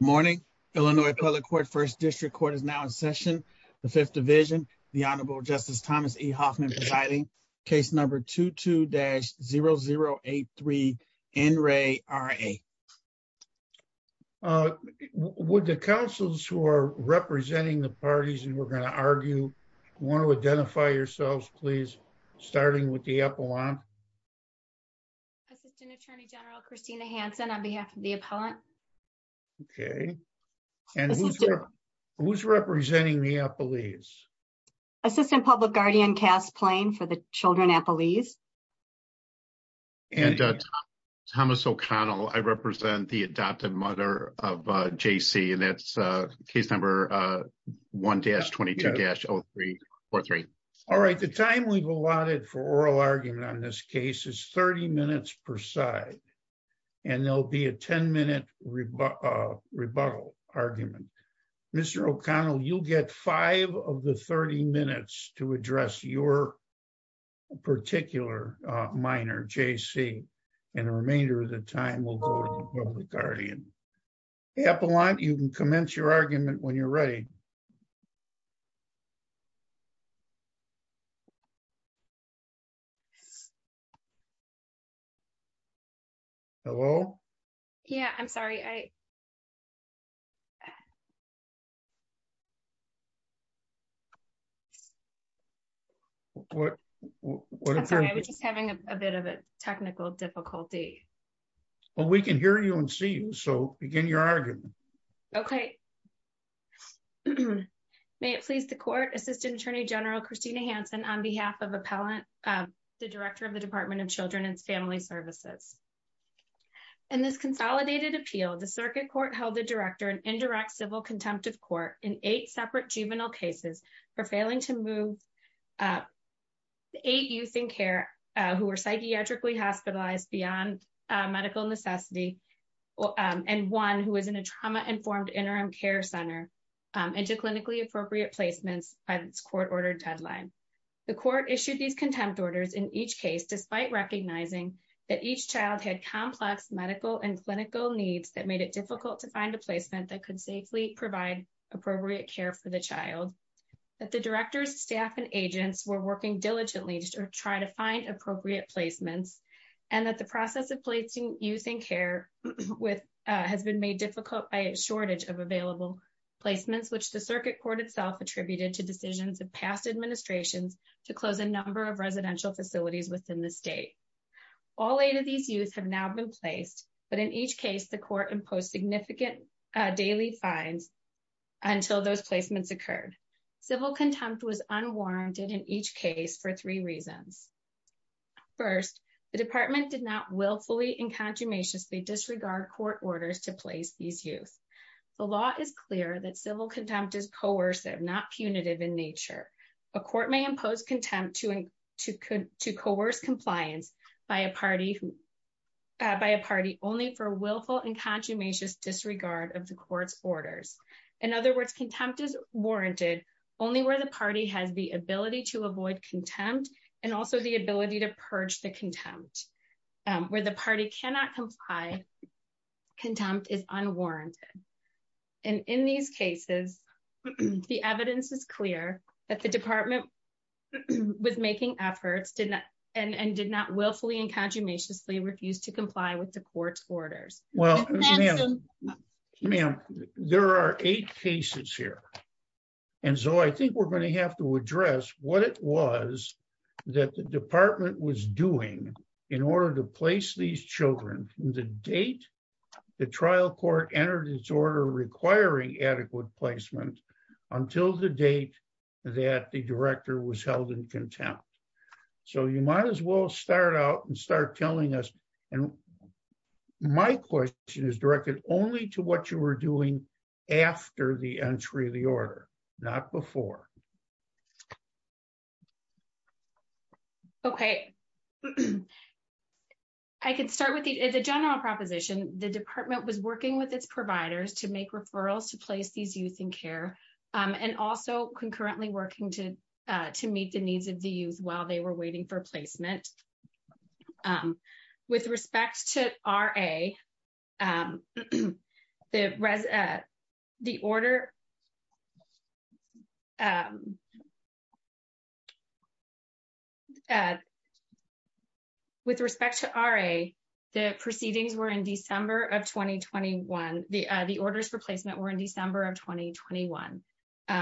Morning, Illinois public court first district court is now in session. The 5th division, the Honorable Justice Thomas E. Hoffman citing case number 2 to dash 0 0 8 3 and Ray are a. Would the councils who are representing the parties and we're going to argue. Want to identify yourself please starting with the apple on. Attorney general Christina Hanson on behalf of the appellant. Okay, and who's there who's representing the police assistant public guardian cast plane for the children. I believe. And Thomas O'Connell, I represent the adoptive mother of JC and that's a case number 1 dash 22 dash 0343. All right, the time we've allotted for oral argument on this case is 30 minutes per side. And there'll be a 10 minute rebuttal argument. Mr. O'Connell, you'll get 5 of the 30 minutes to address your. Particular minor JC. And the remainder of the time will go on the guardian. Apple, you can commence your argument when you're ready. Hello? Yeah, I'm sorry. I. What having a bit of a technical difficulty. Well, we can hear you and see so begin your argument. Okay. May it please the court assistant attorney general Christina Hanson on behalf of appellant, the director of the Department of children and family services. And this consolidated appeal, the circuit court held the director and indirect civil contempt of court in 8 separate juvenile cases for failing to move. You think care who are psychiatrically hospitalized beyond medical necessity. And 1, who is in a trauma informed interim care center. And to clinically appropriate placements court ordered deadline. The court issued these contempt orders in each case, despite recognizing that each child had complex medical and clinical needs that made it difficult to find a placement that could safely provide appropriate care for the child. That the director's staff and agents were working diligently to try to find appropriate placements and that the process of placing using care with has been made difficult by a shortage of available. Placements, which the circuit court itself attributed to decisions, the past administration to close a number of residential facilities within the state. All 8 of these use have now been placed, but in each case, the court and post significant daily time. Until those placements occurred, the whole contempt was unwarranted in each case for 3 reasons. 1st, the department did not willfully and consummation to disregard court orders to place these use the law is clear that civil contempt is coerced. They're not punitive in nature. A court may impose contempt to to to coerce compliance by a party. By a party only for willful and consummation disregard of the court's orders. In other words, contempt is warranted only where the party has the ability to avoid contempt and also the ability to purge the contempt. Where the party cannot comply contempt is unwarranted and in these cases, the evidence is clear that the department. With making efforts and did not willfully and consummation they refused to comply with the court's orders. Well, there are 8 cases here. And so I think we're going to have to address what it was that the department was doing in order to place these children the date. The trial court entered his order, requiring adequate placement until the date. That the director was held in contempt. So you might as well start out and start telling us and my question is directed only to what you were doing after the entry of the order. Not before. Okay. I can start with the general proposition. The department was working with its providers to make referrals to place these using care and also concurrently working to to meet the needs of the youth while they were waiting for placement. With respect to our a. The order. With respect to our a. The proceedings were in December of 2021, the orders for placement were in December of 2021.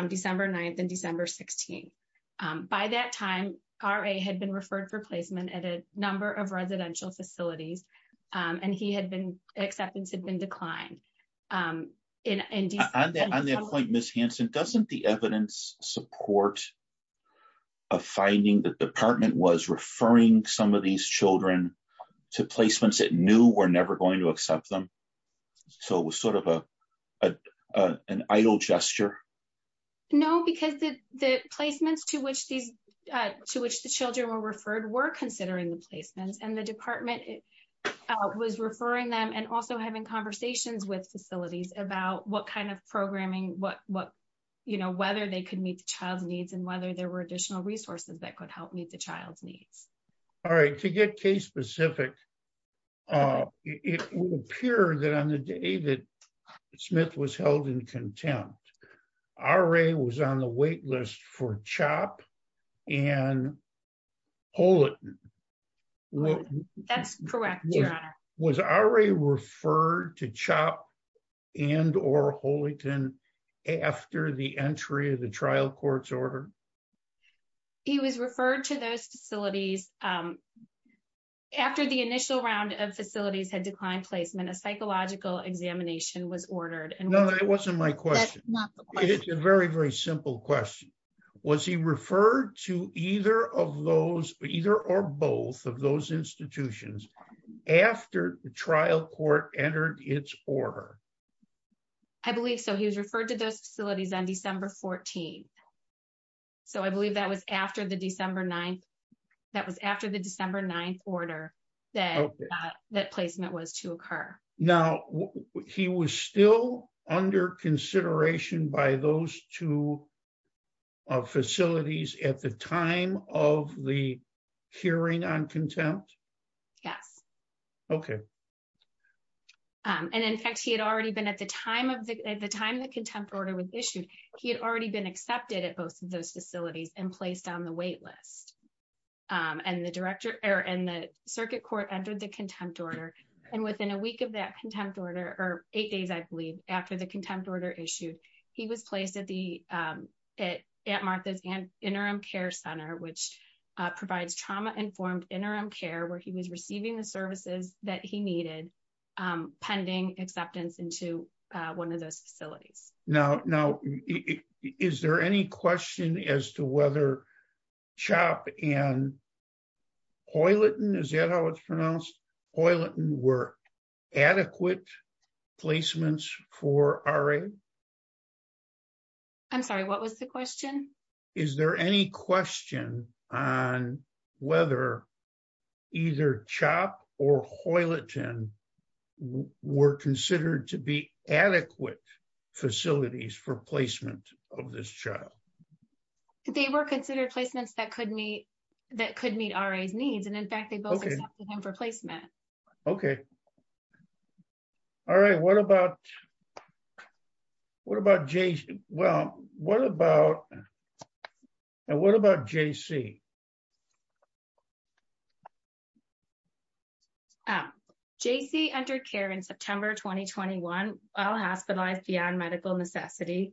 December 9th and December 16th by that time, our a had been referred for placement at a number of residential facilities and he had been acceptance had been declined. And on that point, Miss Hanson, doesn't the evidence support. A finding that department was referring some of these children to placements that knew we're never going to accept them. So, it was sort of a, a, an idle gesture. No, because the placements to which the, to which the children were referred were considering the statement and the department was referring them and also having conversations with facilities about what kind of programming. What, what, you know, whether they could meet the child needs and whether there were additional resources that could help meet the child's needs. All right, to get case specific. It will appear that on the day that Smith was held in contempt, our a was on the wait list for chop. And hold it. That's correct. Yeah. Was our a referred to chop. And or Holyton after the entry of the trial courts order. He was referred to those facilities. After the initial round of facilities had declined placement, a psychological examination was ordered and no, that wasn't my question. It's a very, very simple question. Was he referred to either of those either or both of those institutions after the trial court entered its order. I believe so he was referred to the facilities on December 14. So, I believe that was after the December 9. That was after the December 9 order that that placement was to occur. Now, he was still under consideration by those 2. Facilities at the time of the. Hearing on contempt. Yeah. Did it both of those facilities and placed on the wait list and the director and the circuit court entered the contempt order and within a week of that contempt order or 8 days? I believe after the contempt order issue, he was placed at the at Martha's interim care center, which provides trauma informed interim care where he was receiving the services that he needed. Pending acceptance into 1 of those facilities. No, no, is there any question as to whether. Chop and is that how it's pronounced? We're adequate placements for. I'm sorry, what was the question? Is there any question on whether. Either chop or. We're considered to be adequate. Facilities for placement of this job. They were considered placements that could meet. That could meet needs and in fact, they go for placement. Okay. All right. What about. What about Jason? Well, what about. And what about JC? JC under care in September 2021, I'll have to buy the on medical necessity.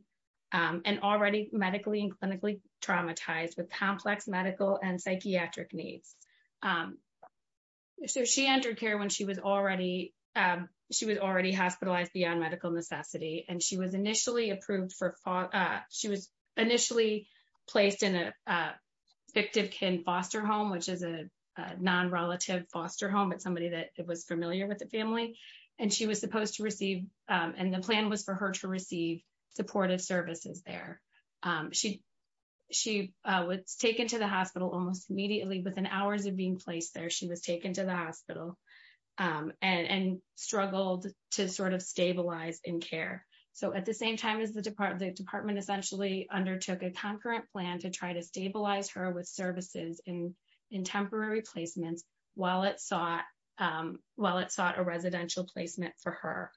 And already medically and clinically traumatized with complex medical and psychiatric needs. So, she entered care when she was already, she was already hospitalized beyond medical necessity and she was initially approved for. She was. Initially placed in a victim can foster home, which is a non relative foster home with somebody that was familiar with the family and she was supposed to receive and the plan was for her to receive supportive services. There she, she was taken to the hospital almost immediately within hours of being placed there. She was taken to the hospital and struggled to sort of stabilize and care. So, at the same time, as the department, the department essentially undertook a concurrent plan to try to stabilize her with services in in temporary placement while it thought well, it's not a residential placement for her.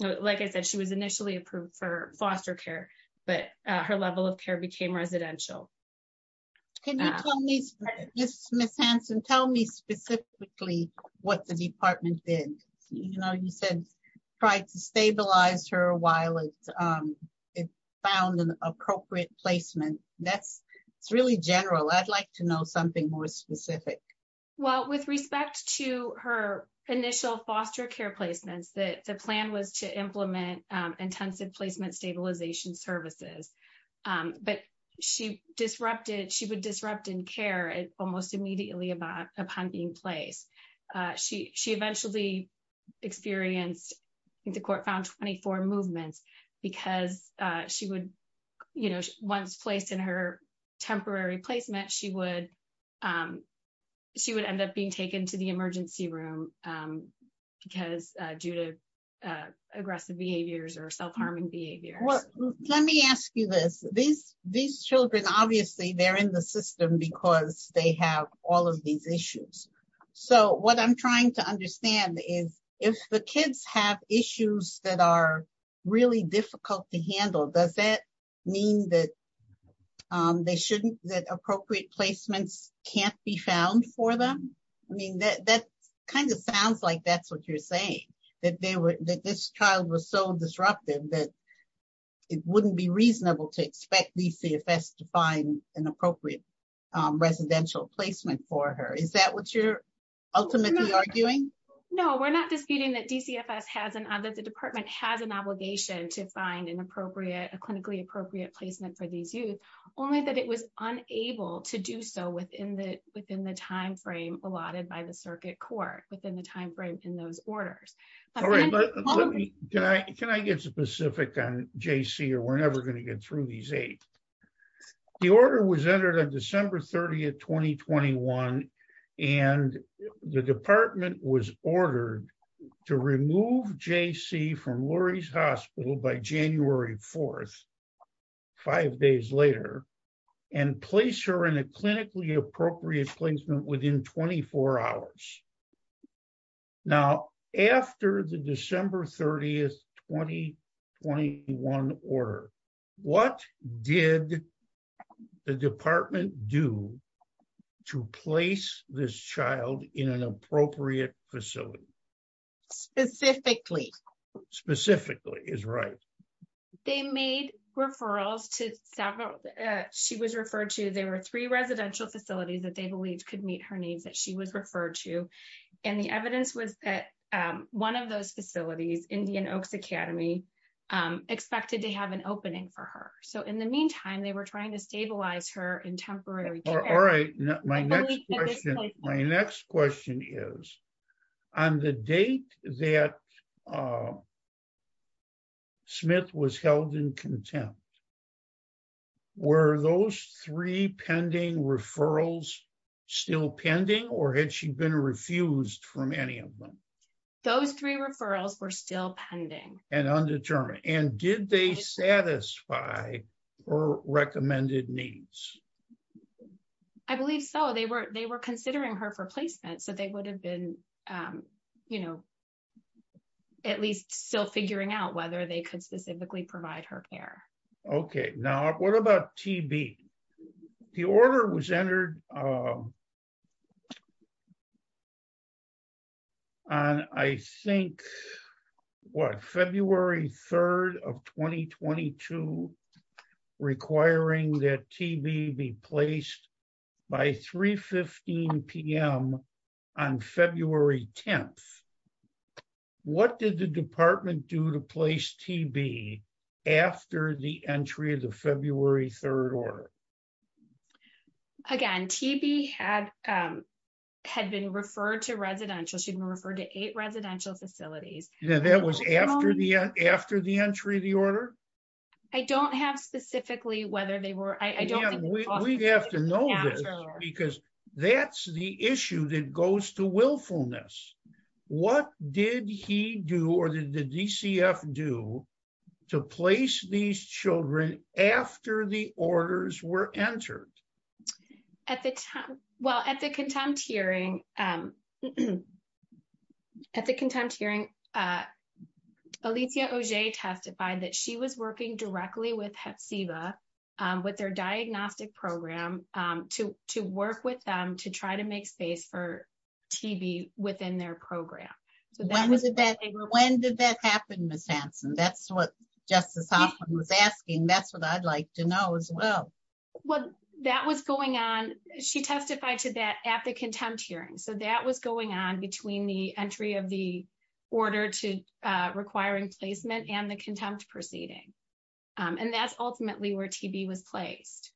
So, like I said, she was initially approved for foster care, but her level of care became residential. Can you tell me just tell me specifically what the department did, you know, you said, try to stabilize her while it's found an appropriate placement. That's really general. I'd like to know something more specific. Well, with respect to her initial foster care placements that the plan was to implement intensive placement stabilization services. But she disrupted, she would disrupt in care and almost immediately about upon being placed. She, she eventually experienced the court found 24 movements because she would once placed in her temporary placement. She would. She would end up being taken to the emergency room because due to aggressive behaviors or self harming behavior. Let me ask you this, these, these children, obviously, they're in the system because they have all of these issues. So what I'm trying to understand is, if the kids have issues that are really difficult to handle, does that mean that. They shouldn't that appropriate placements can't be found for them. I mean, that kind of sounds like that's what you're saying that they were that this child was so disruptive that. It wouldn't be reasonable to expect the CFS to find an appropriate residential placement for her. Is that what you're ultimately arguing? No, we're not disputing that DCFS has an under the department have an obligation to find an appropriate clinically appropriate placement for these use only that it was unable to do so within the within the timeframe allotted by the circuit court within the timeframes in those orders. All right, let me, can I get specific on JC or we're never going to get through these eight. The order was entered on December 30 at 2021 and the department was ordered to remove JC from Lori's hospital by January 4 five days later and place her in a clinically appropriate placement within 24 hours. Now, after the December 30th 2021 order, what did the department do to place this child in an appropriate facility. Specifically, specifically is right. They made referrals to several she was referred to, they were three residential facilities that they believed could meet her needs that she would refer to and the evidence was that one of those facilities in the academy expected to have an opening for her. So, in the meantime, they were trying to stabilize her in temporary. My next question is on the date that. Smith was held in contempt. Were those 3 pending referrals. Still pending, or had she been refused from any of them. Those 3 referrals were still pending and undetermined and did they satisfy. Or recommended needs, I believe. So they were, they were considering her for placement. So they would have been, you know. At least still figuring out whether they could specifically provide her care. Okay. Now, what about TV? The order was entered. I think what February 3rd of 2022. Requiring that TV be placed. By 315 PM. On February 10th, what did the department do to place TV? After the entry of the February 3rd order. Again, TV has. Had been referred to residential, she referred to 8 residential facilities. Yeah, that was after the after the entry of the order. I don't have specifically whether they were, I don't we'd have to know because that's the issue that goes to willfulness. What did he do? Or did the DCF do. To place these children after the orders were entered. Well, at the contempt hearing. At the contempt hearing. Alicia testified that she was working directly with. Um, with their diagnostic program to to work with them to try to make space for. TV within their program, but that was a bad thing. When did that happen? That's what just was asking. That's what I'd like to know as well. Well, that was going on, she testified to that at the contempt hearing. So that was going on between the entry of the. Order to requiring placement and the contempt proceeding. And that's ultimately where TV was placed.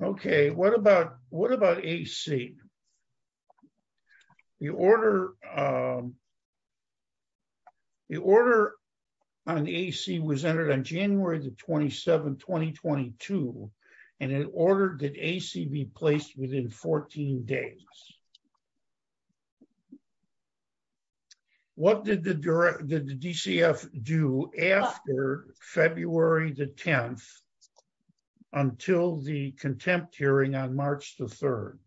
Okay, what about what about AC? The order. The order on the AC was entered on January the 27th, 2022, and it ordered the AC be placed within 14 days. What did the DCF do after February the 10th? Until the contempt hearing on March the 3rd,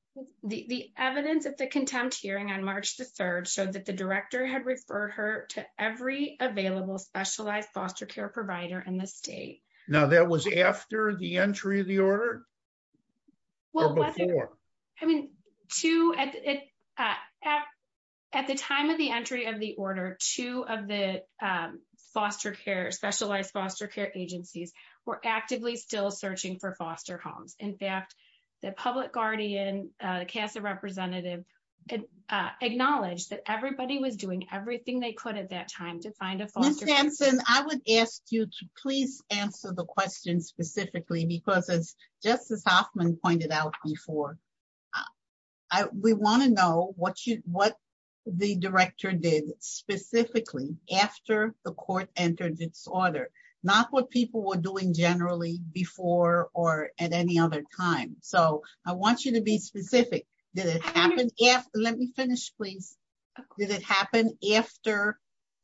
the evidence that the contempt hearing on March the 3rd. So that the director had referred her to every available specialized foster care provider in the state. Now, that was after the entry of the order. Well, I mean, 2 at the time of the entry of the order 2 of the foster care specialized foster care agencies were actively still searching for foster homes. In fact, the public guardian, cast a representative, acknowledged that everybody was doing everything they could at that time to find a foster home. I would ask you to please answer the question specifically, because as Justice Hoffman pointed out before. We want to know what the director did specifically after the court entered its order. Not what people were doing generally before or at any other time. So, I want you to be specific. Did it happen? Yes. Let me finish. Please. Did it happen after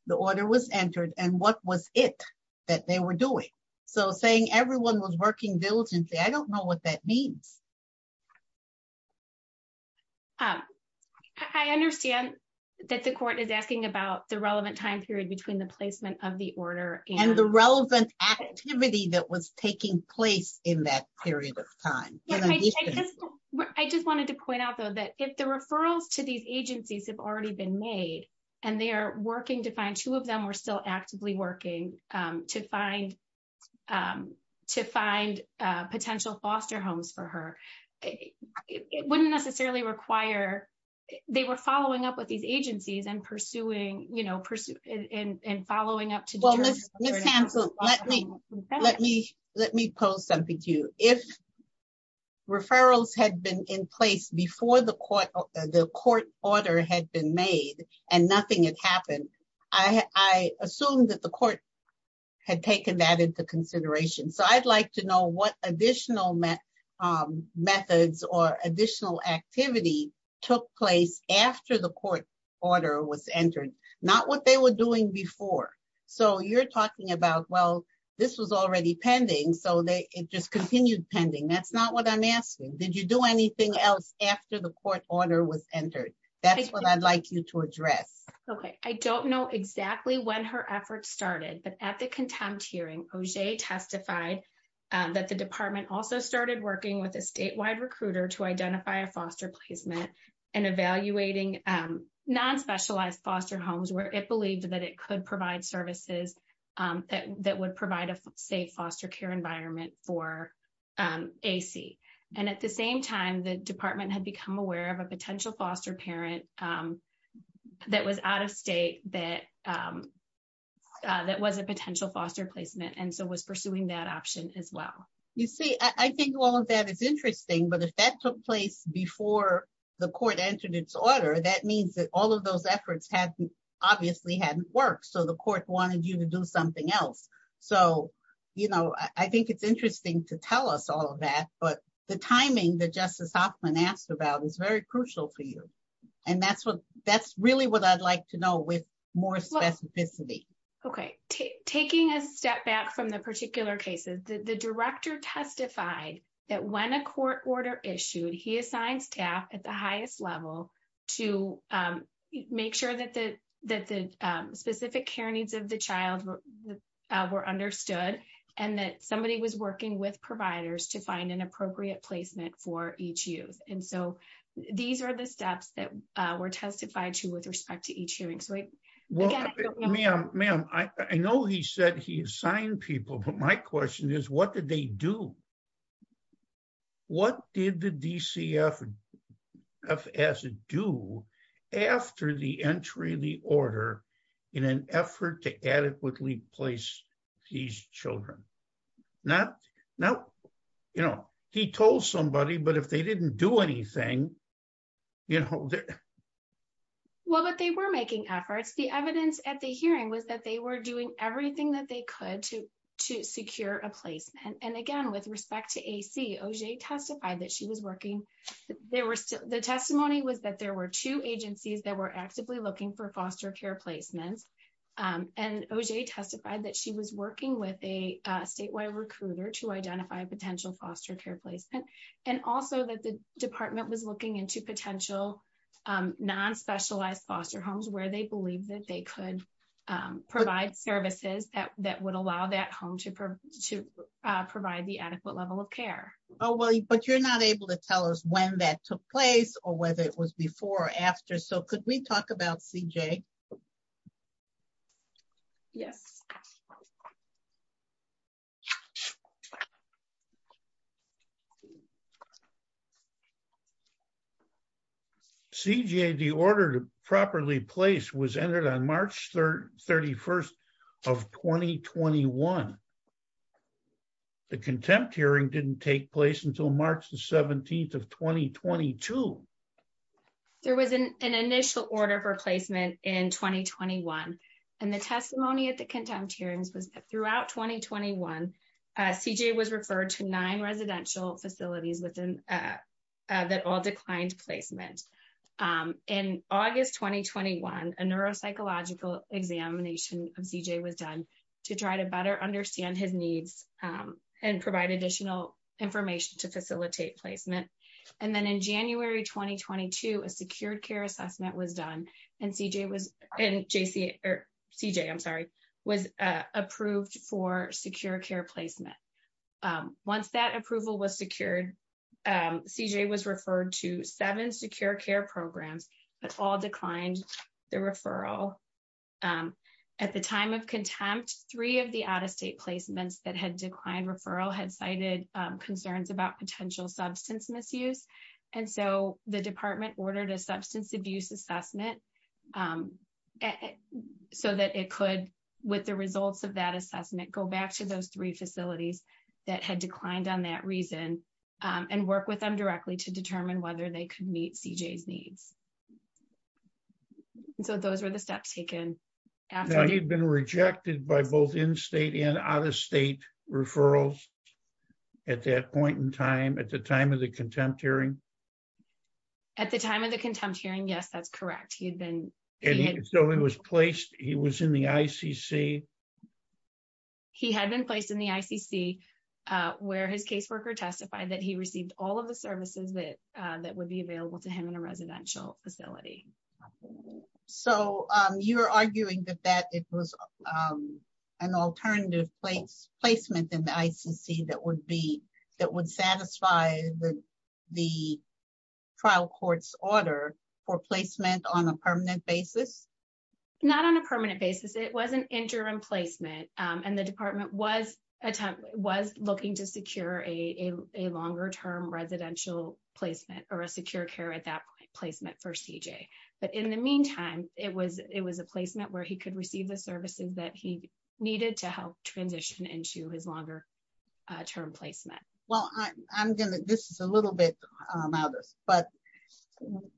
the order was entered and what was it that they were doing? So, saying everyone was working diligently, I don't know what that means. I understand. That the court is asking about the relevant time period between the placement of the order and the relevant activity that was taking place in that period of time. I just wanted to point out that if the referrals to these agencies have already been made, and they are working to find 2 of them are still actively working to find. To find potential foster homes for her, it wouldn't necessarily require. They were following up with these agencies and pursuing, you know, and following up to let me, let me, let me post something to you if. Referrals had been in place before the court, the court order had been made and nothing had happened. I assume that the court had taken that into consideration. So I'd like to know what additional methods or additional activity took place after the court order was entered. Not what they were doing before. So you're talking about well, this was already pending. So they just continued pending. That's not what I'm asking. Did you do anything else after the court order was entered? That's what I'd like you to address. Okay, I don't know exactly when her efforts started, but at the contempt hearing testify that the department also started working with a statewide recruiter to identify a foster placement and evaluating non specialized foster homes, where it believes that it could provide services that would provide a safe foster care environment for and at the same time, the department had become aware of a potential foster parent that was out of state that that was a potential foster placement and so was pursuing that option as well. You see, I think all of that is interesting, but if that took place before the court entered its order, that means that all of those efforts had obviously hadn't worked. So the court wanted you to do something else. So, you know, I think it's interesting to tell us all of that, but the timing that justice often asked about is very crucial for you. And that's what that's really what I'd like to know with more specificity. Okay. Taking a step back from the particular cases that the director testified that when a court order issued, he assigned staff at the highest level to make sure that the specific care needs of the child were understood and that somebody was working with providers to find an appropriate placement for each use. And so these are the steps that were testified to with respect to each hearing. Ma'am, I know he said he assigned people, but my question is, what did they do? What did the DCFS do after the entry of the order in an effort to adequately place these children? Now, you know, he told somebody, but if they didn't do anything, you know, well, but they were making efforts. The evidence at the hearing was that they were doing everything that they could to to secure a place. And again, with respect to testify that she was working. There were the testimony was that there were 2 agencies that were actively looking for foster care placement and testified that she was working with a statewide recruiter to identify potential foster care placement. And also that the department was looking into potential non specialized foster homes where they believe that they could provide services that would allow that home to provide the adequate level of care. Oh, well, but you're not able to tell us when that took place or whether it was before or after. So, could we talk about CJ? Yeah. CJ, the order to properly place was entered on March 31st of 2021. The contempt hearing didn't take place until March the 17th of 2022. There was an initial order for placement in 2021 and the testimony at the contempt hearings throughout 2021. Uh, CJ was referred to 9 residential facilities within. That all declined placements in August 2021, a neuropsychological examination of CJ was done to try to better understand his needs and provide additional information to facilitate placement. And then, in January 2022, a secure care assessment was done and CJ was approved for secure care placement. Once that approval was secured, CJ was referred to 7 secure care programs, but all declined the referral. Um, at the time of contempt, 3 of the out of state placements that had declined referral had cited concerns about potential substance misuse. And so the department ordered a substance abuse assessment so that it could, with the results of that assessment, go back to those 3 facilities that had declined on that reason and work with them directly to determine whether they could meet CJ's needs. So, those are the steps taken. He'd been rejected by both in state and out of state referrals. At that point in time, at the time of the contempt hearing. At the time of the contempt hearing, yes, that's correct. He had been so he was placed. He was in the. He had been placed in the, where his caseworker testified that he received all of the services that that would be available to him in a residential facility. So, you are arguing that that it was. An alternative placement in the that would be that would satisfy the. Trial courts order for placement on a permanent basis. Not on a permanent basis, it wasn't interim placement and the department was attempt was looking to secure a longer term residential placement or a secure care at that placement for CJ. But in the meantime, it was, it was a placement where he could receive the services that he needed to help transition into his longer term placement. Well, I'm going to, this is a little bit, but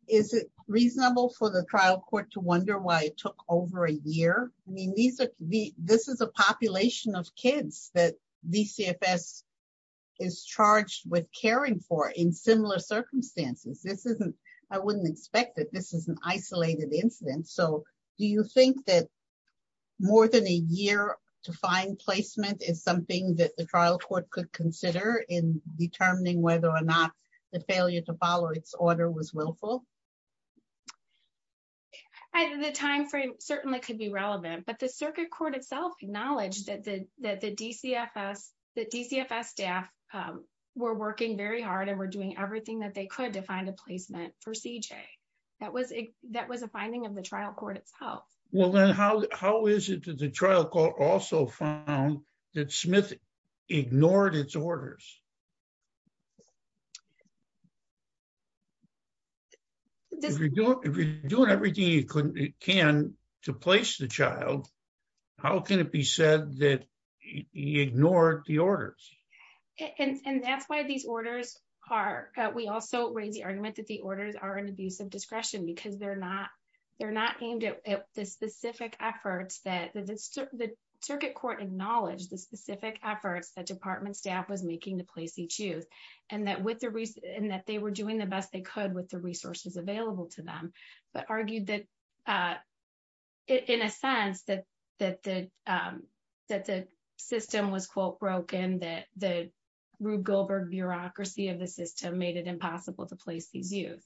is it reasonable for the trial court to wonder? Why it took over a year means that this is a population of kids that is charged with caring for in similar circumstances. This isn't I wouldn't expect that this is an isolated incident. So do you think that more than a year to find placement is something that the trial court could consider in determining whether or not the failure to follow its order was willful. At the time frame certainly could be relevant, but the circuit court itself acknowledged that the, that the staff were working very hard and we're doing everything that they could to find a placement for CJ. That was a, that was a finding of the trial court. Oh, well, then how how is it to the trial court also found that Smith ignored its orders. If you're doing everything you can to place the child, how can it be said that he ignored the orders? And that's why these orders are, but we also raise the argument that the orders are an abuse of discretion because they're not, they're not aimed at the specific efforts that the circuit court acknowledged the specific efforts that department staff was making to place the child in a place of care. Place each use and that with the, and that they were doing the best they could with the resources available to them, but argued that in a sense that that the, that the system was quote broken that the Rube Goldberg bureaucracy of the system made it impossible to place the view.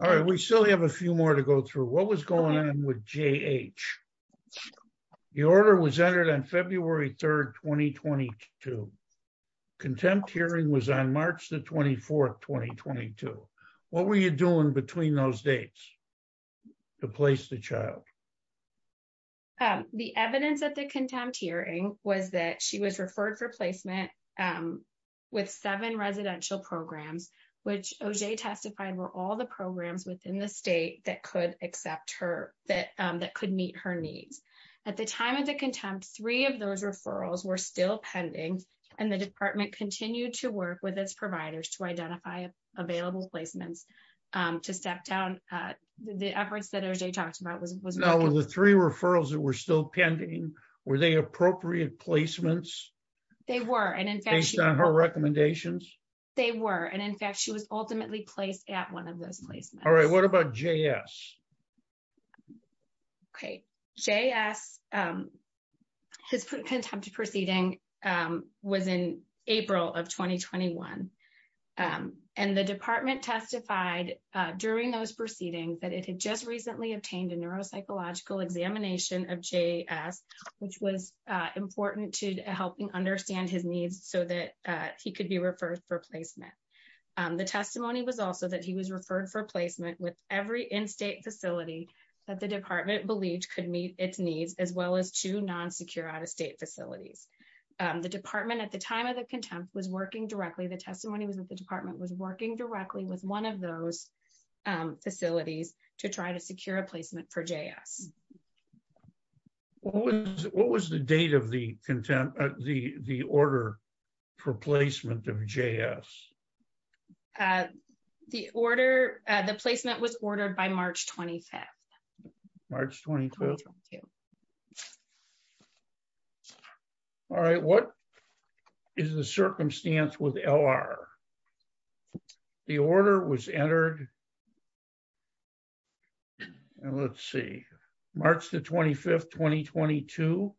All right, we still have a few more to go through what was going on with the order was entered on February 3rd, 2022. Contempt hearing was on March the 24th, 2022. What were you doing between those dates to place the child. The evidence that the contempt hearing was that she was referred for placement. With 7 residential programs, which testified were all the programs within the state that could accept her that that could meet her needs. At the time of the contempt 3 of those referrals were still pending and the department continue to work with its providers to identify available placements to step down the efforts that are they talked about was the 3 referrals that were still pending. Were they appropriate placements. They were, and in fact, her recommendations, they were, and in fact, she was ultimately placed at 1 of those places. All right. What about J. S. Okay, J. S. Contempt proceeding within April of 2021 and the department testified during those proceedings that it had just recently obtained a neuropsychological examination of J. Which was important to help me understand his needs so that he could be referred for placement. The testimony was also that he was referred for placement with every in state facility that the department believes could meet its needs as well as to non secure out of state facilities. The department at the time of the contempt was working directly. The testimony was that the department was working directly with 1 of those facilities to try to secure a placement for J. What was the date of the contempt, the, the order for placement of J. S. The order, the placement was ordered by March 25 March. All right. What is the circumstance with L. R. The order was entered. Let's see. March, the 25th, 2022,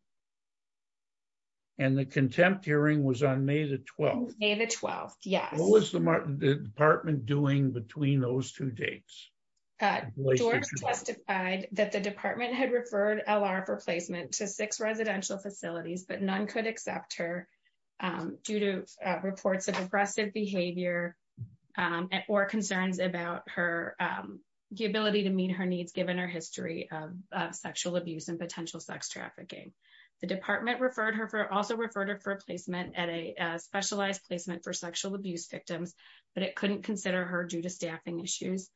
and the contempt hearing was on May the 12th. Yeah. What was the department doing between those 2 dates? Testified that the department had referred a lot of replacement to 6 residential facilities, but none could accept her. Due to reports of aggressive behavior or concerns about her, the ability to meet her needs, given her history of sexual abuse and potential sex trafficking. The department referred her for also refer to her placement at a specialized placement for sexual abuse victims, but it couldn't consider her due to staffing issues.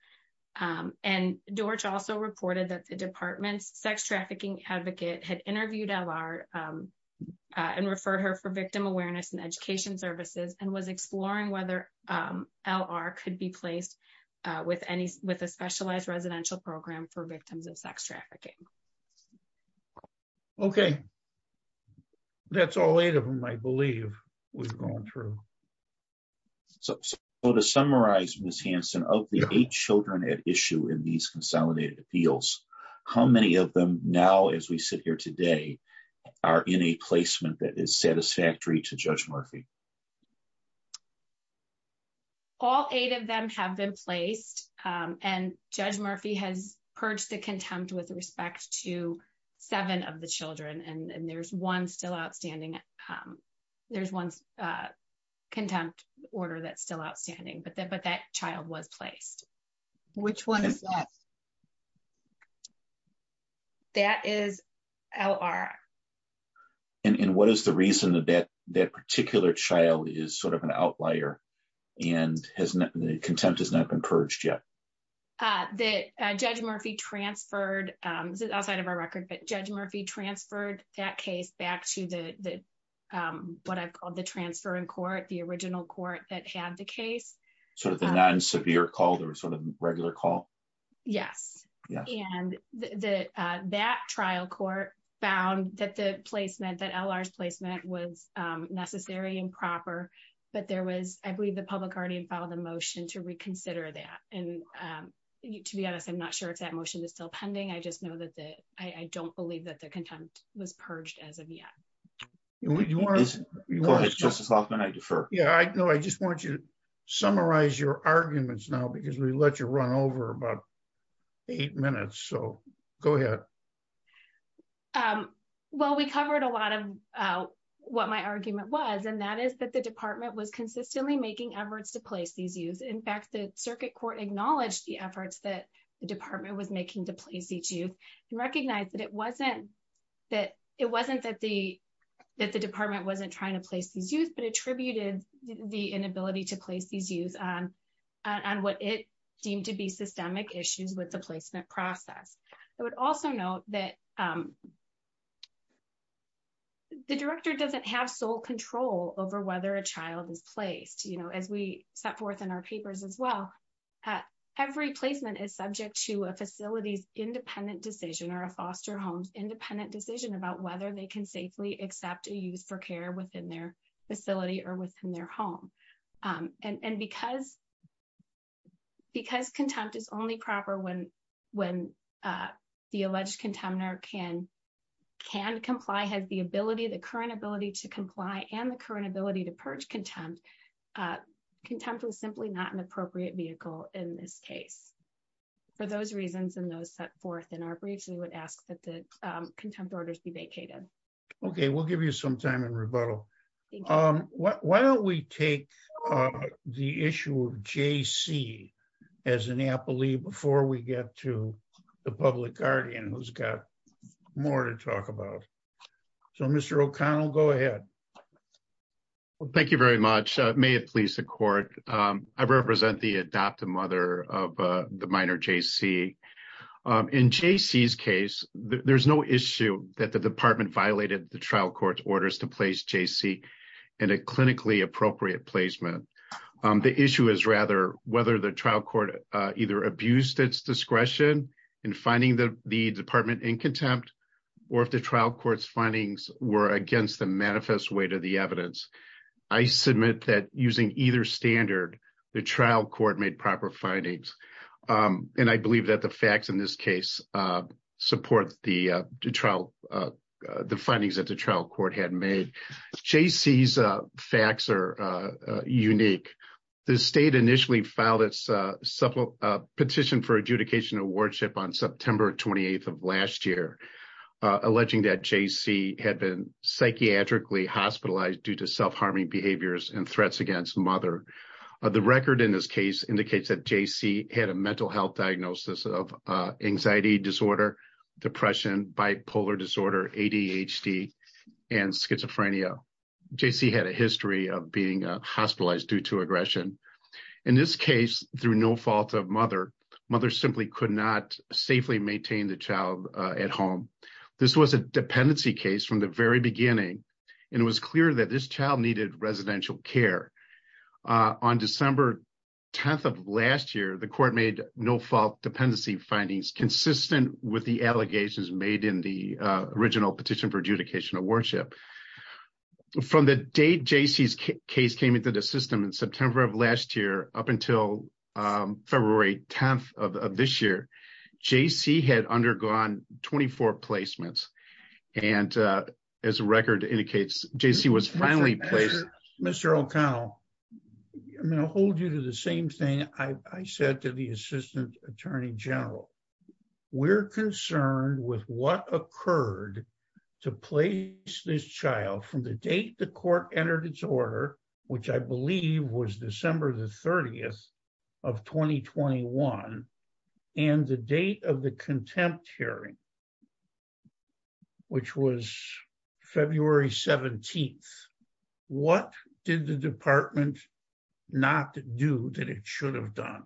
And George also reported that the department sex trafficking advocate had interviewed our and referred her for victim awareness and education services and was exploring whether L. R. could be placed with any with a specialized residential program for victims of sex trafficking. Okay, that's all 8 of them. I believe we've gone through. So, to summarize, Miss Hanson of the 8 children at issue in these consolidated appeals, how many of them now, as we sit here today are in a placement that is satisfactory to judge Murphy. All 8 of them have been placed and judge Murphy has purged the contempt with respect to 7 of the children and there's 1 still outstanding. There's 1 contempt order that's still outstanding, but that child was placed which 1. That is L. R. And what is the reason that that particular child is sort of an outlier and has not been contempt is not encouraged yet. The judge Murphy transferred outside of our record, but judge Murphy transferred that case back to the, what I call the transfer in court, the original court that had the case. So, the non severe called or sort of regular call. Yeah. Yeah. And the, that trial court found that the placement that L. R. placement was necessary and proper. But there was, I believe the public already filed a motion to reconsider that. And to be honest, I'm not sure if that motion is still pending. I just know that that I don't believe that the contempt was purged as of yet. We want to discuss about that. I defer. Yeah, I know. I just want you to summarize your arguments now, because we let you run over about 8 minutes. So go ahead. Well, we covered a lot of what my argument was, and that is that the department was consistently making efforts to place these use. In fact, the circuit court acknowledged the efforts that the department was making the place each use and recognize that it wasn't. That it wasn't that the, that the department wasn't trying to place the juice that attributed the inability to place these use. And what it seemed to be systemic issues with the placement process. I would also note that. The director doesn't have sole control over whether a child is placed as we set forth in our papers as well. Every placement is subject to a facility independent decision or a foster homes independent decision about whether they can safely accept a use for care within their facility or within their home. And because. Because contempt is only proper when when the alleged contender can can comply has the ability to current ability to comply and the current ability to purge contempt. Contempt was simply not an appropriate vehicle in this case. For those reasons, and those set forth in our breach, we would ask that the contempt orders be vacated. Okay, we'll give you some time and rebuttal. Why don't we take the issue of JC as an apple before we get to the public guardian who's got more to talk about. So, Mr. O'Connell, go ahead. Thank you very much. May it please the court. I represent the adoptive mother of the minor JC in JC's case, there's no issue that the department violated the trial court orders to place JC In a clinically appropriate placement. The issue is rather whether the trial court either abused its discretion and finding the the department in contempt. Or if the trial courts findings were against the manifest way to the evidence. I submit that using either standard the trial court made proper findings. And I believe that the facts in this case support the trial. The findings that the trial court had made JC's facts are unique. The state initially filed a petition for adjudication and wardship on September 28 of last year. Alleging that JC had been psychiatrically hospitalized due to self harming behaviors and threats against mother. The record in this case indicates that JC had a mental health diagnosis of anxiety disorder, depression, bipolar disorder, ADHD, and schizophrenia. JC had a history of being hospitalized due to aggression. In this case, through no fault of mother, mother simply could not safely maintain the child at home. This was a dependency case from the very beginning. And it was clear that this child needed residential care. On December 10 of last year, the court made no fault dependency findings consistent with the allegations made in the original petition for adjudication of worship. From the day JC's case came into the system in September of last year, up until February 10 of this year, JC had undergone 24 placements and as a record indicates JC was finally placed Mr. O'Connell, I'm going to hold you to the same thing I said to the Assistant Attorney General. We're concerned with what occurred to place this child from the date the court entered its order, which I believe was December the 30th of 2021 and the date of the contempt hearing, which was February 17th. What did the department not do that it should have done?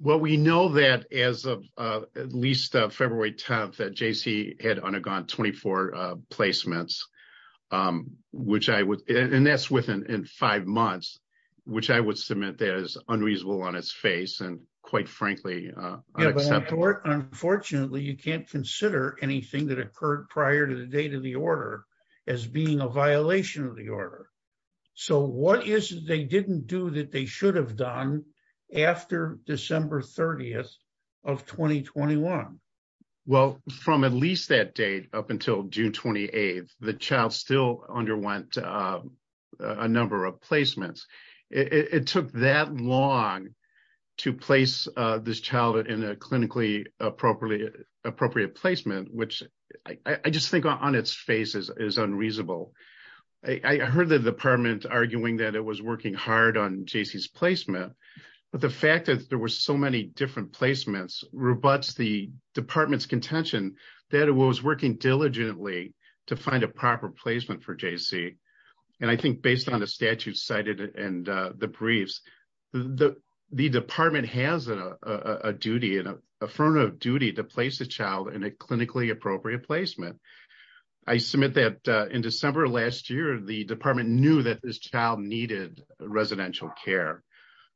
Well, we know that as of at least February 10th that JC had undergone 24 placements, which I would, and that's within five months, which I would submit as unreasonable on its face and quite frankly. Unfortunately, you can't consider anything that occurred prior to the date of the order as being a violation of the order. So what is it they didn't do that they should have done after December 30th of 2021? Well, from at least that date up until June 28th, the child still underwent a number of placements. It took that long to place this child in a clinically appropriate placement, which I just think on its face is unreasonable. I heard the department arguing that it was working hard on JC's placement, but the fact that there were so many different placements rebuts the department's contention that it was working diligently to find a proper placement for JC. And I think based on the statute cited and the briefs, the department has a duty, an affirmative duty to place the child in a clinically appropriate placement. I submit that in December of last year, the department knew that this child needed residential care,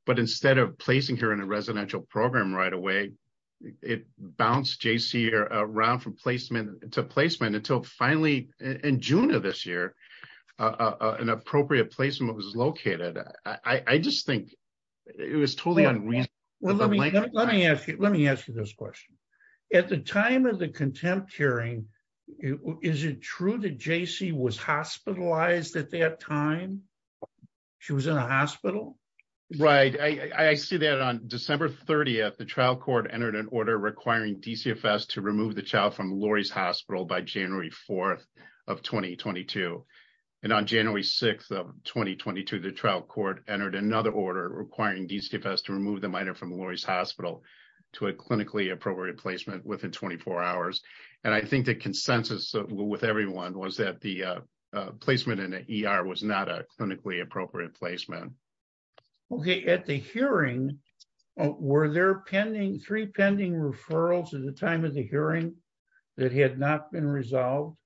but instead of placing her in a residential program right away, it bounced JC around from placement to placement until finally in June of this year, an appropriate placement was located. I just think it was totally unreasonable. Let me ask you this question. At the time of the contempt hearing, is it true that JC was hospitalized at that time? She was in a hospital? Right. I see that on December 30th, the trial court entered an order requiring DCFS to remove the child from Lori's hospital by January 4th of 2022. And on January 6th of 2022, the trial court entered another order requiring DCFS to remove the minor from Lori's hospital to a clinically appropriate placement within 24 hours. And I think the consensus with everyone was that the placement in the ER was not a clinically appropriate placement. Okay. At the hearing, were there three pending referrals at the time of the hearing that had not been resolved?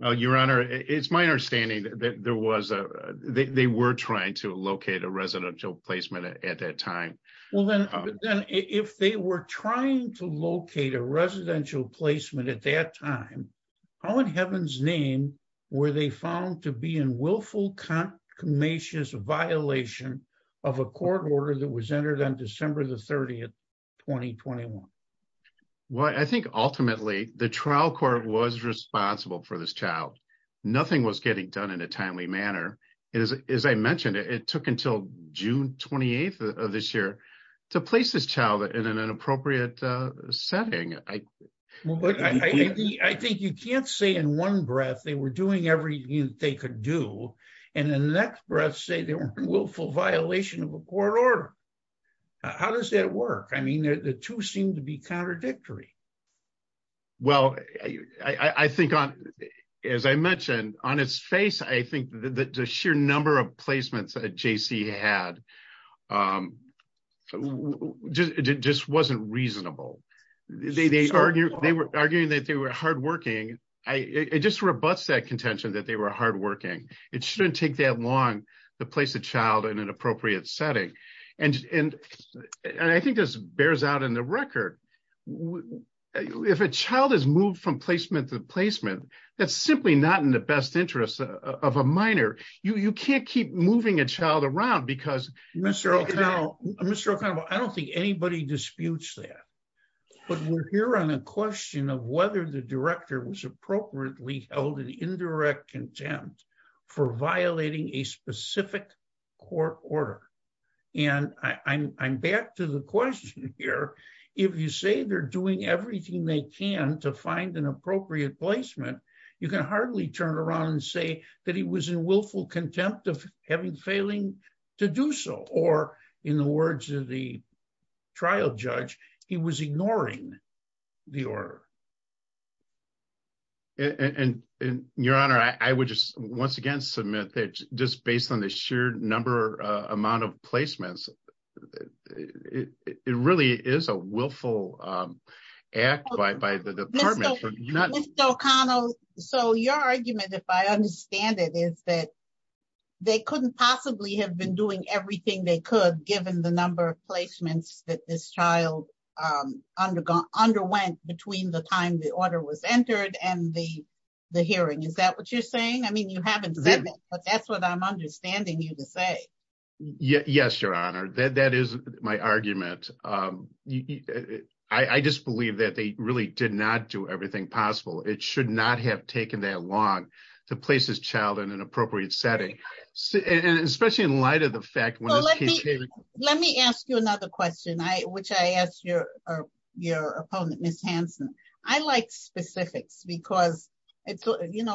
Your Honor, it's my understanding that they were trying to locate a residential placement at that time. Well, then if they were trying to locate a residential placement at that time, how in heaven's name were they found to be in willful, concomitant violation of a court order that was entered on December 30th, 2021? Well, I think ultimately the trial court was responsible for this child. Nothing was getting done in a timely manner. As I mentioned, it took until June 28th of this year to place this child in an appropriate setting. I think you can't say in one breath they were doing everything they could do, and in the next breath say they were in willful violation of a court order. How does that work? I mean, the two seem to be contradictory. Well, I think as I mentioned, on its face, I think the sheer number of placements that J.C. had just wasn't reasonable. They were arguing that they were hardworking. It just rebuts that contention that they were hardworking. It shouldn't take that long to place a child in an appropriate setting. I think this bears out in the record. If a child is moved from placement to placement, that's simply not in the best interest of a minor. You can't keep moving a child around because... Now, Mr. Ocampo, I don't think anybody disputes that, but we're here on a question of whether the director was appropriately held in indirect contempt for violating a specific court order. And I'm back to the question here. If you say they're doing everything they can to find an appropriate placement, you can hardly turn around and say that he was in willful contempt of having failing to do so, or in the words of the trial judge, he was ignoring the order. Your Honor, I would just once again submit that just based on the sheer number amount of placements, it really is a willful act by the department. Mr. Ocampo, so your argument, if I understand it, is that they couldn't possibly have been doing everything they could given the number of placements that this child underwent between the time the order was entered and the hearing. Is that what you're saying? I mean, you haven't done it, but that's what I'm understanding you to say. Yes, Your Honor. That is my argument. I just believe that they really did not do everything possible. It should not have taken that long to place this child in an appropriate setting, especially in light of the fact... Let me ask you another question, which I asked your opponent, Ms. Hanson. I like specifics because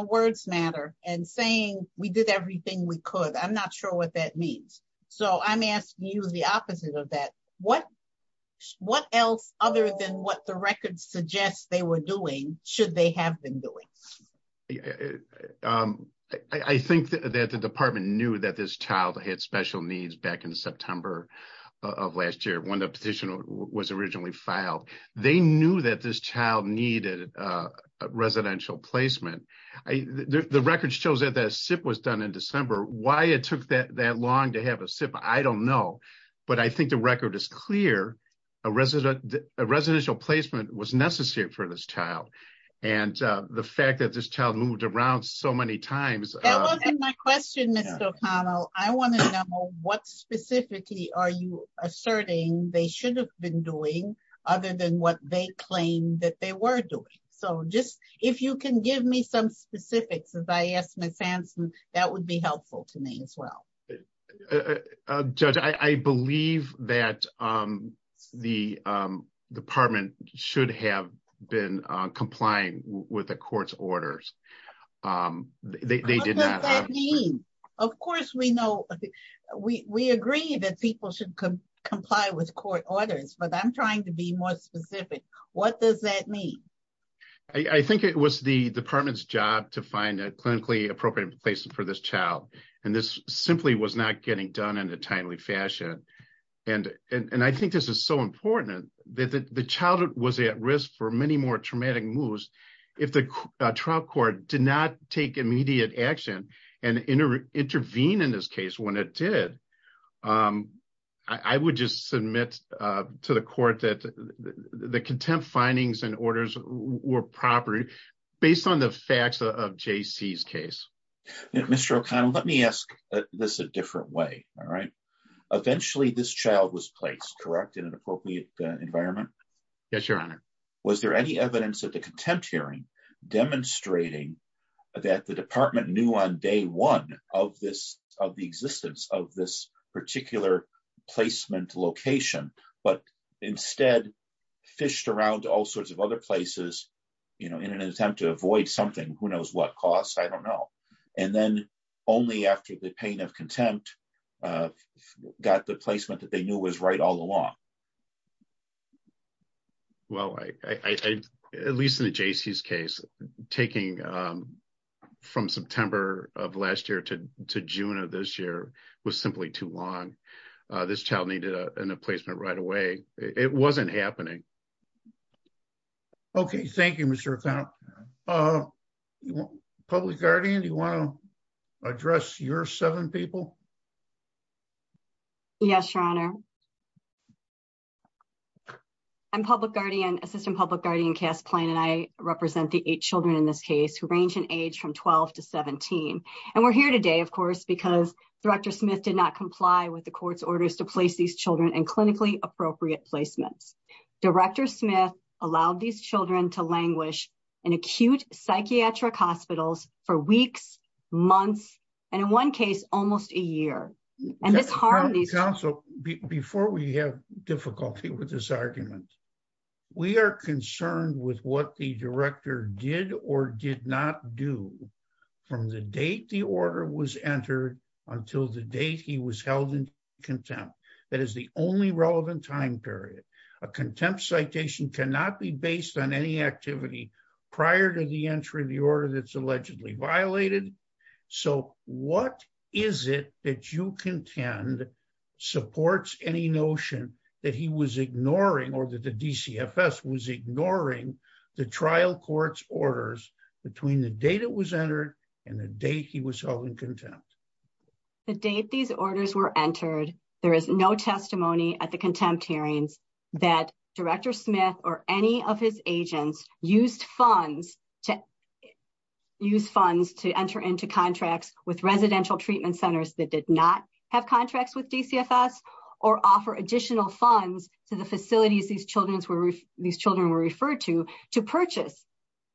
words matter, and saying we did everything we could, I'm not sure what that means. So I'm asking you the opposite of that. What else, other than what the records suggest they were doing, should they have been doing? I think that the department knew that this child had special needs back in September of last year when the petition was originally filed. They knew that this child needed a residential placement. The records show that that SIP was done in December. Why it took that long to have a SIP, I don't know. But I think the record is clear. A residential placement was necessary for this child. And the fact that this child moved around so many times... That wasn't my question, Mr. O'Connell. I want to know what specifically are you asserting they should have been doing, other than what they claim that they were doing. So just, if you can give me some specifics, as I asked Ms. Hanson, that would be helpful to me as well. Judge, I believe that the department should have been complying with the court's orders. What does that mean? Of course we agree that people should comply with court orders, but I'm trying to be more specific. What does that mean? I think it was the department's job to find a clinically appropriate place for this child. And this simply was not getting done in a timely fashion. And I think this is so important that the child was at risk for many more traumatic moves if the trial court did not take immediate action and intervene in this case when it did. I would just submit to the court that the contempt findings and orders were proper, based on the facts of J.C.'s case. Mr. O'Connell, let me ask this a different way. Eventually this child was placed, correct, in an appropriate environment? Yes, Your Honor. Was there any evidence at the contempt hearing demonstrating that the department knew on day one of the existence of this particular placement location, but instead fished around to all sorts of other places in an attempt to avoid something, who knows what cost? I don't know. And then only after the pain of contempt got the placement that they knew was right all along? Well, at least in the J.C.'s case, taking from September of last year to June of this year was simply too long. This child needed a placement right away. It wasn't happening. Okay, thank you, Mr. O'Connell. Public Guardian, do you want to address your seven people? Yes, Your Honor. I'm Public Guardian, Assistant Public Guardian Cass Plain, and I represent the eight children in this case, who range in age from 12 to 17. And we're here today, of course, because Director Smith did not comply with the court's orders to place these children in clinically appropriate placements. Director Smith allowed these children to languish in acute psychiatric hospitals for weeks, months, and in one case, almost a year. Counsel, before we have difficulty with this argument, we are concerned with what the director did or did not do from the date the order was entered until the date he was held in contempt. That is the only relevant time period. A contempt citation cannot be based on any activity prior to the entry of the order that's allegedly violated. So what is it that you contend supports any notion that he was ignoring or that the DCFS was ignoring the trial court's orders between the date it was entered and the date he was held in contempt? The date these orders were entered, there is no testimony at the contempt hearing that Director Smith or any of his agents used funds to enter into contracts with residential treatment centers that did not have contracts with DCFS, or offer additional funds to the facilities these children were referred to, to purchase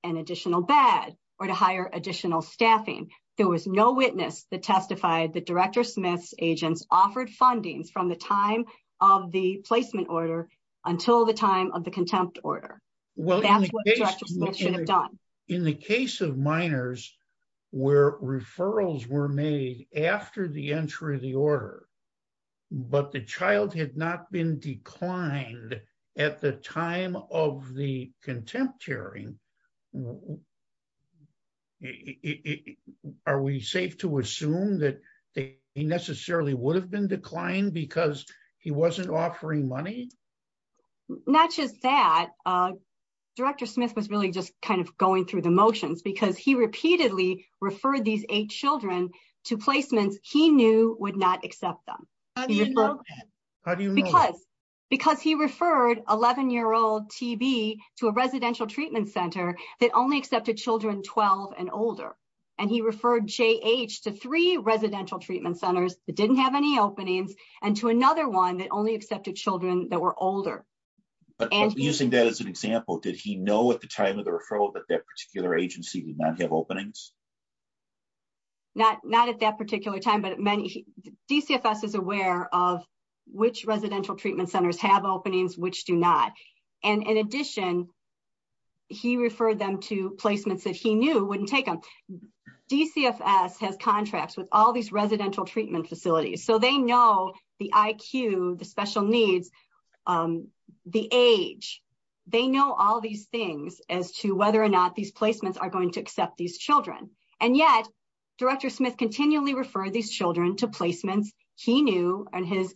an additional bed or to hire additional staffing. There was no witness that testified that Director Smith's agents offered funding from the time of the placement order until the time of the contempt order. In the case of minors where referrals were made after the entry of the order, but the child had not been declined at the time of the contempt hearing, are we safe to assume that he necessarily would have been declined because he wasn't offering money? Not just that, Director Smith was really just kind of going through the motions because he repeatedly referred these eight children to placements he knew would not accept them. How do you know that? Because he referred 11-year-old TB to a residential treatment center that only accepted children 12 and older. And he referred JH to three residential treatment centers that didn't have any openings and to another one that only accepted children that were older. Using that as an example, did he know at the time of the referral that that particular agency did not have openings? Not at that particular time, but DCFS is aware of which residential treatment centers have openings, which do not. And in addition, he referred them to placements that he knew wouldn't take them. DCFS has contracts with all these residential treatment facilities, so they know the IQ, the special needs, the age. They know all these things as to whether or not these placements are going to accept these children. And yet, Director Smith continually referred these children to placements he knew and his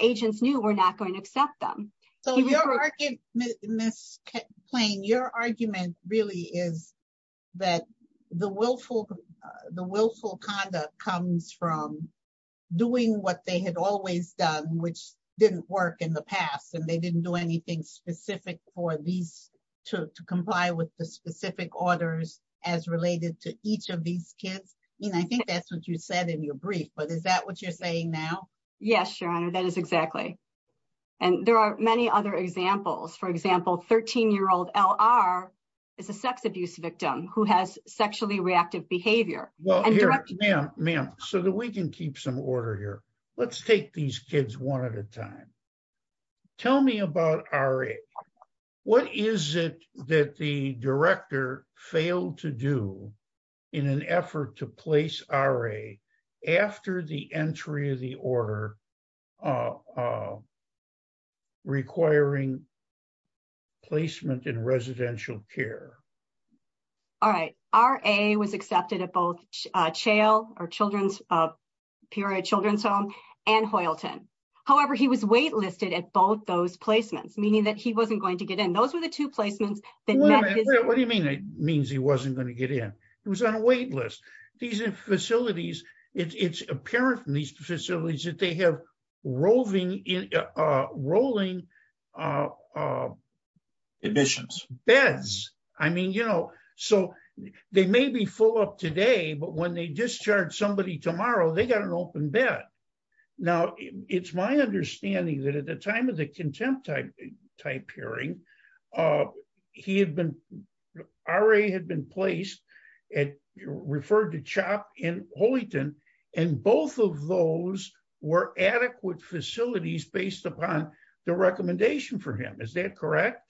agents knew were not going to accept them. So your argument really is that the willful conduct comes from doing what they had always done, which didn't work in the past and they didn't do anything specific for these to comply with the specific orders as related to each of these kids. And I think that's what you said in your brief, but is that what you're saying now? Yes, Your Honor, that is exactly. And there are many other examples. For example, 13-year-old L.R. is a sex abuse victim who has sexually reactive behavior. Ma'am, so that we can keep some order here, let's take these kids one at a time. Tell me about R.A. What is it that the director failed to do in an effort to place R.A. after the entry of the order requiring placement in residential care? All right. R.A. was accepted at both Children's Home and Hoylton. However, he was wait-listed at both those placements, meaning that he wasn't going to get in. Those are the two placements. What do you mean it means he wasn't going to get in? He was on a wait list. These facilities, it's apparent from these facilities that they have rolling admissions, beds. I mean, you know, so they may be full up today, but when they discharge somebody tomorrow, they got an open bed. Now, it's my understanding that at the time of the contempt type hearing, R.A. had been placed, referred to CHOP in Hoylton, and both of those were adequate facilities based upon the recommendation for him. Is that correct?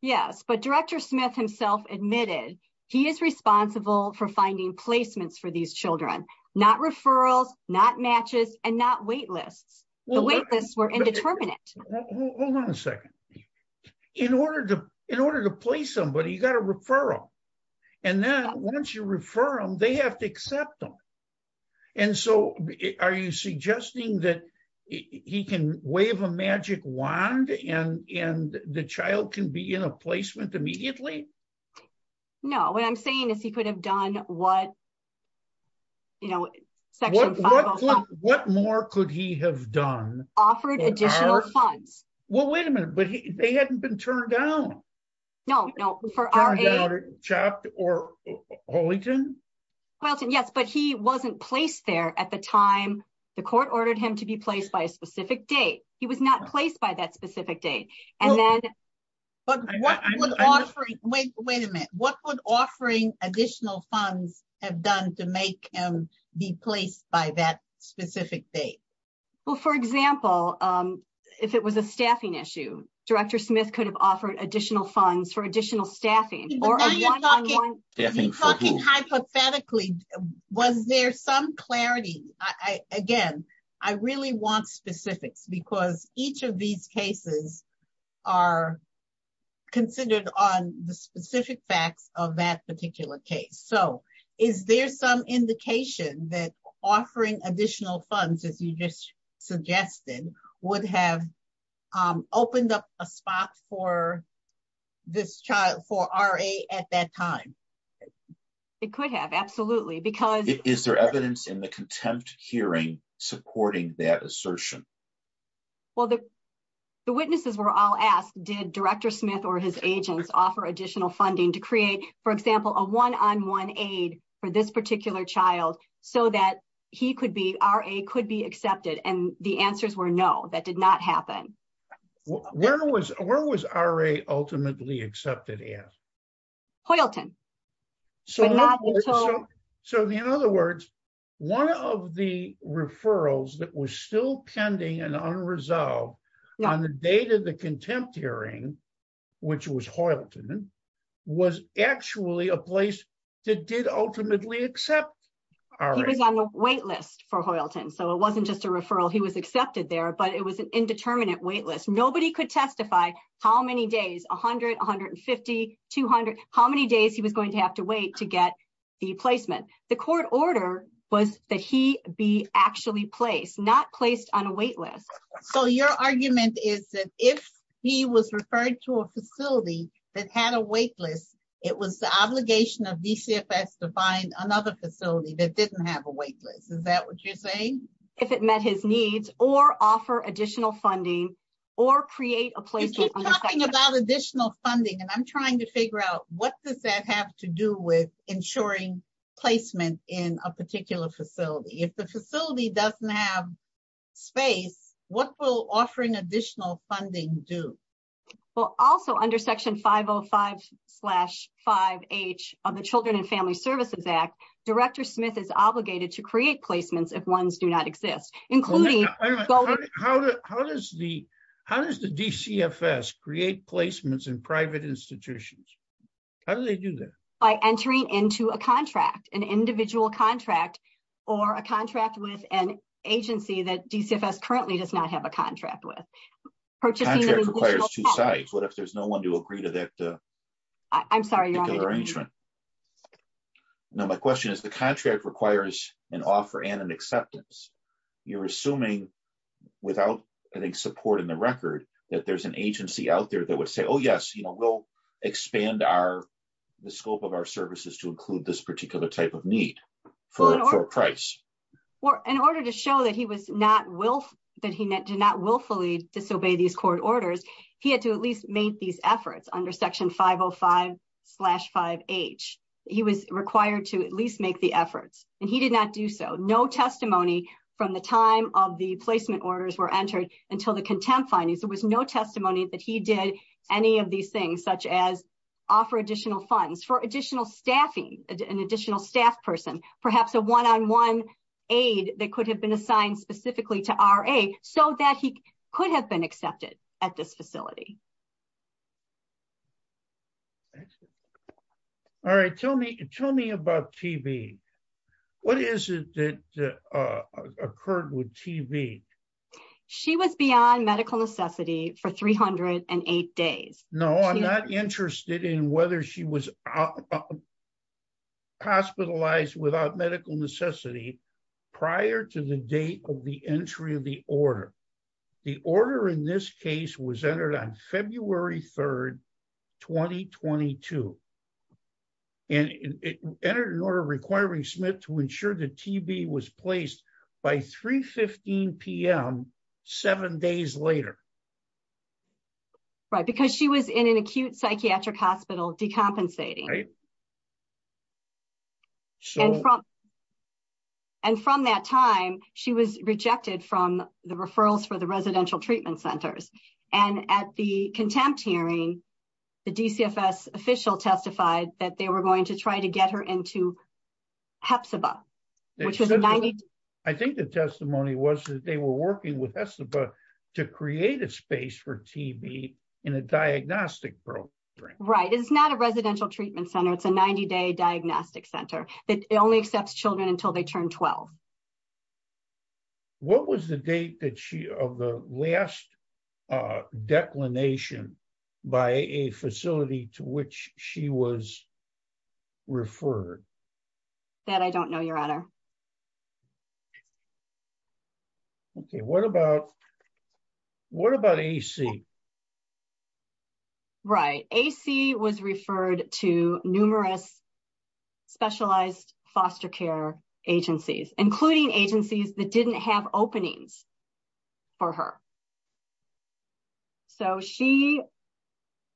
Yes. But Director Smith himself admitted he is responsible for finding placements for these children, not referrals, not matches, and not wait lists. The wait lists were indeterminate. Hold on a second. In order to place somebody, you got to refer them. And then once you refer them, they have to accept them. And so are you suggesting that he can wave a magic wand and the child can be in a placement immediately? No. What I'm saying is he could have done what, you know, Section 505. What more could he have done? Offered additional funds. Well, wait a minute. They hadn't been turned down. No, no. For R.A. CHOP or Hoylton? Hoylton, yes, but he wasn't placed there at the time the court ordered him to be placed by a specific date. He was not placed by that specific date. And then. Wait a minute. What would offering additional funds have done to make him be placed by that specific date? Well, for example, if it was a staffing issue, Director Smith could have offered additional funds for additional staffing. Hypothetically, was there some clarity? Again, I really want specifics because each of these cases are considered on the specific facts of that particular case. So is there some indication that offering additional funds, as you just suggested, would have opened up a spot for this child, for R.A. at that time? It could have, absolutely, because. Is there evidence in the contempt hearing supporting that assertion? Well, the witnesses were all asked, did Director Smith or his agents offer additional funding to create, for example, a one-on-one aid for this particular child so that he could be, R.A. could be accepted? And the answers were no, that did not happen. Where was R.A. ultimately accepted at? Hoylton. So in other words, one of the referrals that was still pending and unresolved on the date of the contempt hearing, which was Hoylton, was actually a place that did ultimately accept R.A. He was on the wait list for Hoylton, so it wasn't just a referral. He was accepted there, but it was an indeterminate wait list. Nobody could testify how many days, 100, 150, 200, how many days he was going to have to wait to get the placement. The court order was that he be actually placed, not placed on a wait list. So your argument is that if he was referred to a facility that had a wait list, it was the obligation of VCFS to find another facility that didn't have a wait list. Is that what you're saying? If it met his needs, or offer additional funding, or create a placement. You keep talking about additional funding, and I'm trying to figure out what does that have to do with ensuring placement in a particular facility. If the facility doesn't have space, what will offering additional funding do? Also under Section 505-5H of the Children and Family Services Act, Director Smith is obligated to create placements if ones do not exist. How does the DCFS create placements in private institutions? How do they do that? By entering into a contract, an individual contract, or a contract with an agency that DCFS currently does not have a contract with. Contract requires two sides. What if there's no one to agree to that arrangement? I'm sorry, Your Honor. Now my question is, the contract requires an offer and an acceptance. You're assuming, without any support in the record, that there's an agency out there that would say, oh yes, we'll expand the scope of our services to include this particular type of need for a price. In order to show that he did not willfully disobey these court orders, he had to at least make these efforts under Section 505-5H. He was required to at least make the efforts, and he did not do so. No testimony from the time of the placement orders were entered until the contempt findings. There was no testimony that he did any of these things, such as offer additional funds for additional staffing, an additional staff person. Perhaps a one-on-one aid that could have been assigned specifically to RA so that he could have been accepted at this facility. All right, tell me about TB. What is it that occurred with TB? She was beyond medical necessity for 308 days. No, I'm not interested in whether she was hospitalized without medical necessity prior to the date of the entry of the order. The order in this case was entered on February 3, 2022. And it entered an order requiring Smith to ensure that TB was placed by 3.15 p.m. seven days later. Right, because she was in an acute psychiatric hospital decompensating. And from that time, she was rejected from the referrals for the residential treatment centers. And at the contempt hearing, the DCFS official testified that they were going to try to get her into Hepzibah. I think the testimony was that they were working with Hepzibah to create a space for TB in a diagnostic program. Right, it's not a residential treatment center. It's a 90-day diagnostic center. It only accepts children until they turn 12. What was the date of the last declination by a facility to which she was referred? That I don't know, Your Honor. Okay, what about AC? Right, AC was referred to numerous specialized foster care agencies, including agencies that didn't have openings for her. So she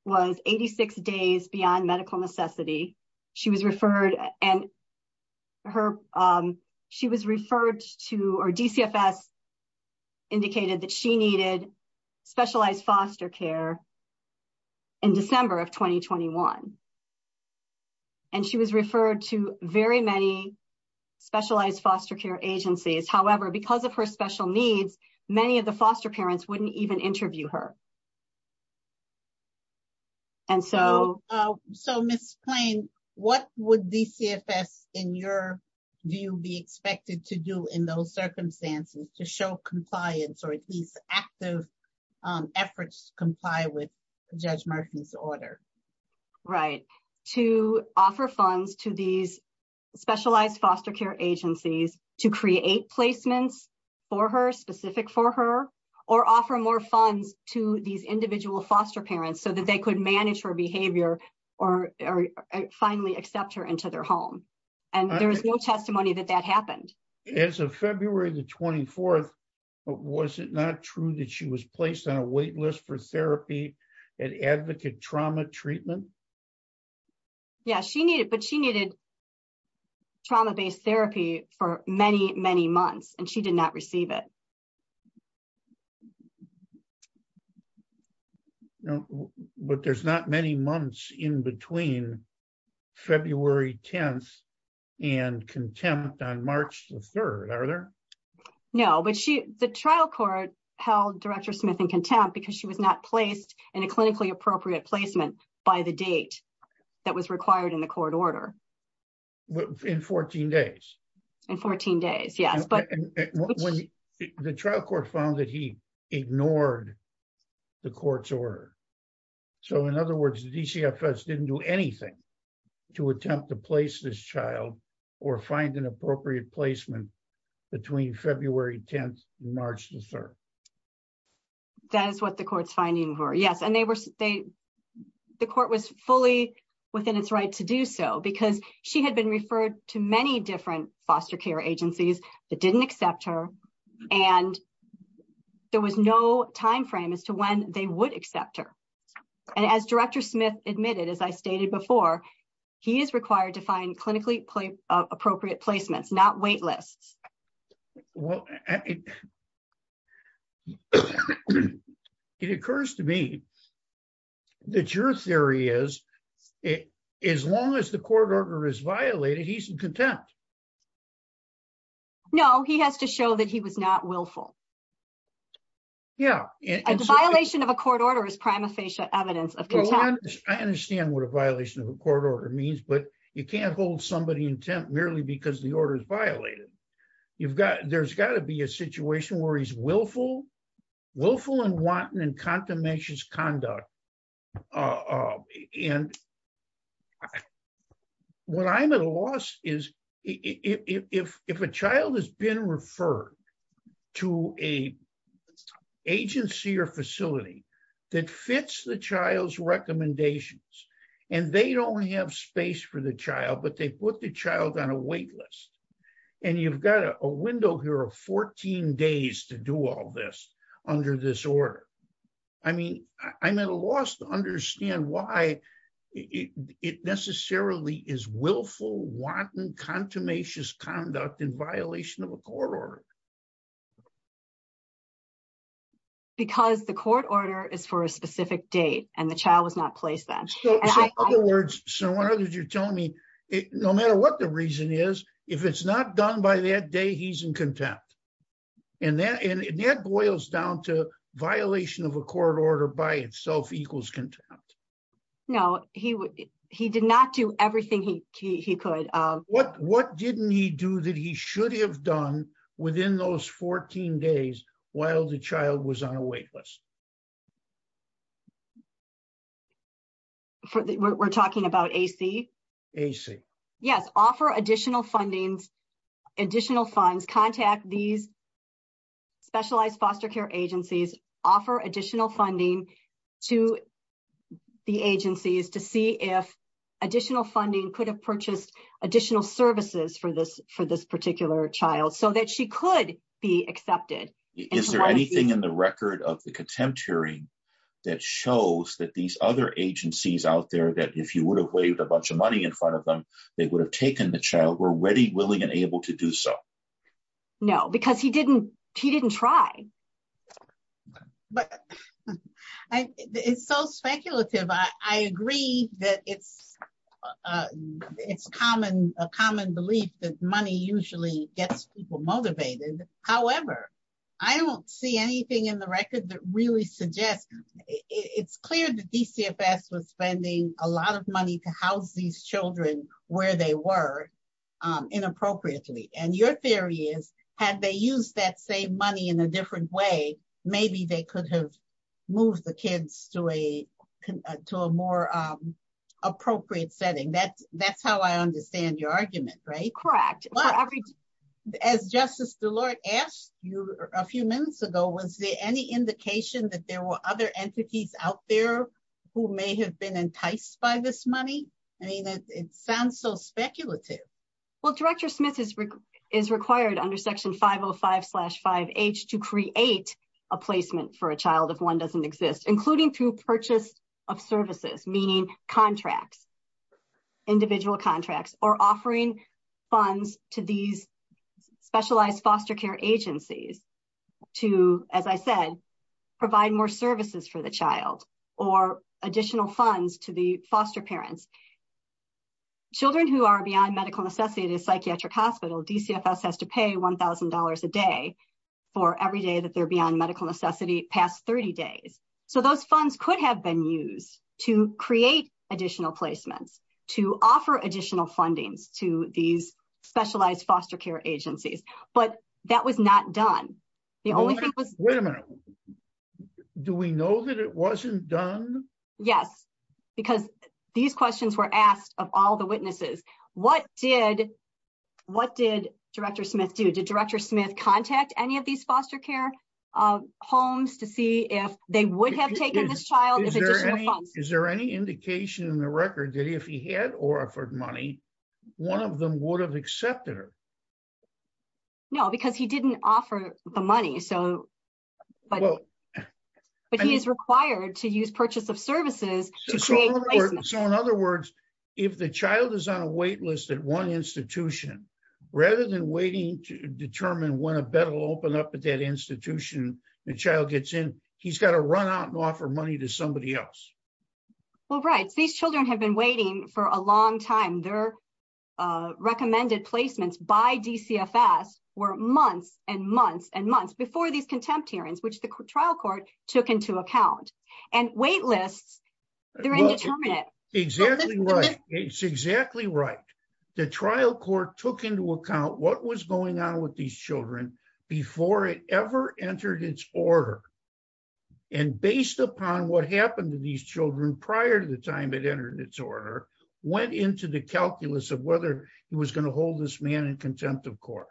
was 86 days beyond medical necessity. And DCFS indicated that she needed specialized foster care in December of 2021. And she was referred to very many specialized foster care agencies. However, because of her special needs, many of the foster parents wouldn't even interview her. And so... So Ms. Payne, what would DCFS, in your view, be expected to do in those circumstances to show compliance or at least active efforts to comply with Judge Martin's order? Right, to offer funds to these specialized foster care agencies to create placements for her, specific for her, or offer more funds to these individual foster parents so that they could manage her behavior or finally accept her into their home. And there was no testimony that that happened. As of February the 24th, was it not true that she was placed on a wait list for therapy at Advocate Trauma Treatment? Yeah, she needed trauma-based therapy for many, many months, and she did not receive it. But there's not many months in between February 10th and contempt on March the 3rd, are there? No, but the trial court held Director Smith in contempt because she was not placed in a clinically appropriate placement by the date that was required in the court order. In 14 days? In 14 days, yes. The trial court found that he ignored the court's order. So, in other words, DCFS didn't do anything to attempt to place this child or find an appropriate placement between February 10th and March the 3rd. That is what the court's finding were, yes. And the court was fully within its right to do so because she had been referred to many different foster care agencies that didn't accept her, and there was no timeframe as to when they would accept her. And as Director Smith admitted, as I stated before, he is required to find clinically appropriate placements, not wait lists. Well, it occurs to me that your theory is as long as the court order is violated, he's in contempt. No, he has to show that he was not willful. Yeah. A violation of a court order is prima facie evidence of contempt. I understand what a violation of a court order means, but you can't hold somebody in contempt merely because the order is violated. There's got to be a situation where he's willful, willful and wanton, and consummations conduct. And what I'm at a loss is if a child has been referred to an agency or facility that fits the child's recommendations, and they don't have space for the child, but they put the child on a wait list, and you've got a window here of 14 days to do all this under this order. I mean, I'm at a loss to understand why it necessarily is willful, wanton, consummations conduct in violation of a court order. Because the court order is for a specific date, and the child was not placed then. So in other words, no matter what the reason is, if it's not done by that day, he's in contempt. And that boils down to violation of a court order by itself equals contempt. No, he did not do everything he could. What didn't he do that he should have done within those 14 days while the child was on a wait list? We're talking about AC? AC. Yes, offer additional funding, additional funds, contact these specialized foster care agencies, offer additional funding to the agencies to see if additional funding could have purchased additional services for this particular child so that she could be accepted. Is there anything in the record of the contempt hearing that shows that these other agencies out there, that if you would have waived a bunch of money in front of them, they would have taken the child, were ready, willing, and able to do so? No, because he didn't try. But it's so speculative. I agree that it's a common belief that money usually gets people motivated. However, I don't see anything in the record that really suggests it's clear that DCFS was spending a lot of money to house these children where they were inappropriately. And your theory is, had they used that same money in a different way, maybe they could have moved the kids to a more appropriate setting. That's how I understand your argument, right? Correct. As Justice DeLoy asked you a few minutes ago, was there any indication that there were other entities out there who may have been enticed by this money? I mean, it sounds so speculative. Well, Director Smith is required under Section 505-5H to create a placement for a child if one doesn't exist, including through purchase of services, meaning contracts, individual contracts, or offering funds to these specialized foster care agencies to, as I said, provide more services for the child or additional funds to the foster parents. Children who are beyond medical necessity in a psychiatric hospital, DCFS has to pay $1,000 a day for every day that they're beyond medical necessity past 30 days. So those funds could have been used to create additional placements, to offer additional funding to these specialized foster care agencies. But that was not done. Wait a minute. Do we know that it wasn't done? Yes, because these questions were asked of all the witnesses. What did Director Smith do? Did Director Smith contact any of these foster care homes to see if they would have taken this child? Is there any indication in the record that if he had or offered money, one of them would have accepted her? No, because he didn't offer the money. But he is required to use purchase of services. So in other words, if the child is on a wait list at one institution, rather than waiting to determine when a bed will open up at that institution, the child gets in, he's got to run out and offer money to somebody else. Well, right. These children have been waiting for a long time. Their recommended placements by DCFS were months and months and months before these contempt hearings, which the trial court took into account. And wait lists, they're indeterminate. Exactly right. It's exactly right. The trial court took into account what was going on with these children before it ever entered its order. And based upon what happened to these children prior to the time it entered its order, went into the calculus of whether he was going to hold this man in contempt of court.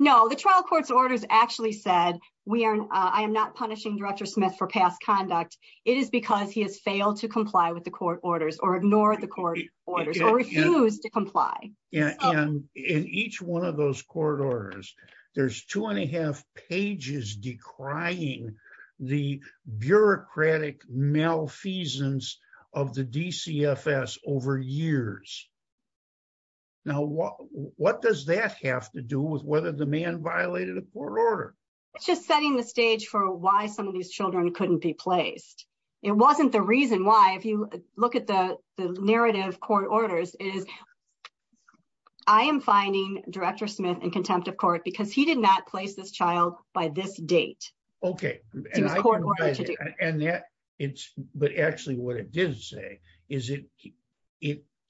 No, the trial court's orders actually said, I am not punishing Director Smith for past conduct. It is because he has failed to comply with the court orders or ignore the court orders or refused to comply. In each one of those court orders, there's two and a half pages decrying the bureaucratic malfeasance of the DCFS over years. Now, what does that have to do with whether the man violated a court order? It's just setting the stage for why some of these children couldn't be placed. It wasn't the reason why. If you look at the narrative court orders, it is, I am finding Director Smith in contempt of court because he did not place this child by this date. Okay. But actually what it did say is he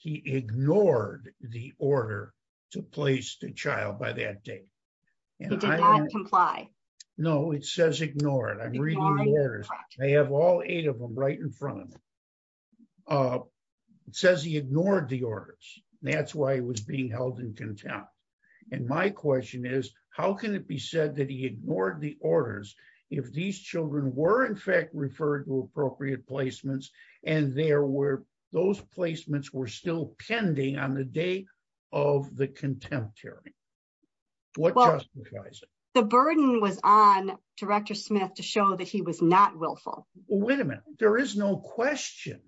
ignored the order to place the child by that date. He did not comply. No, it says ignore it. I'm reading the letters. I have all eight of them right in front of me. It says he ignored the orders. That's why he was being held in contempt. And my question is, how can it be said that he ignored the orders if these children were in fact referred to appropriate placements and those placements were still pending on the date of the contempt hearing? What justifies it? The burden was on Director Smith to show that he was not willful. Wait a minute. There is no question,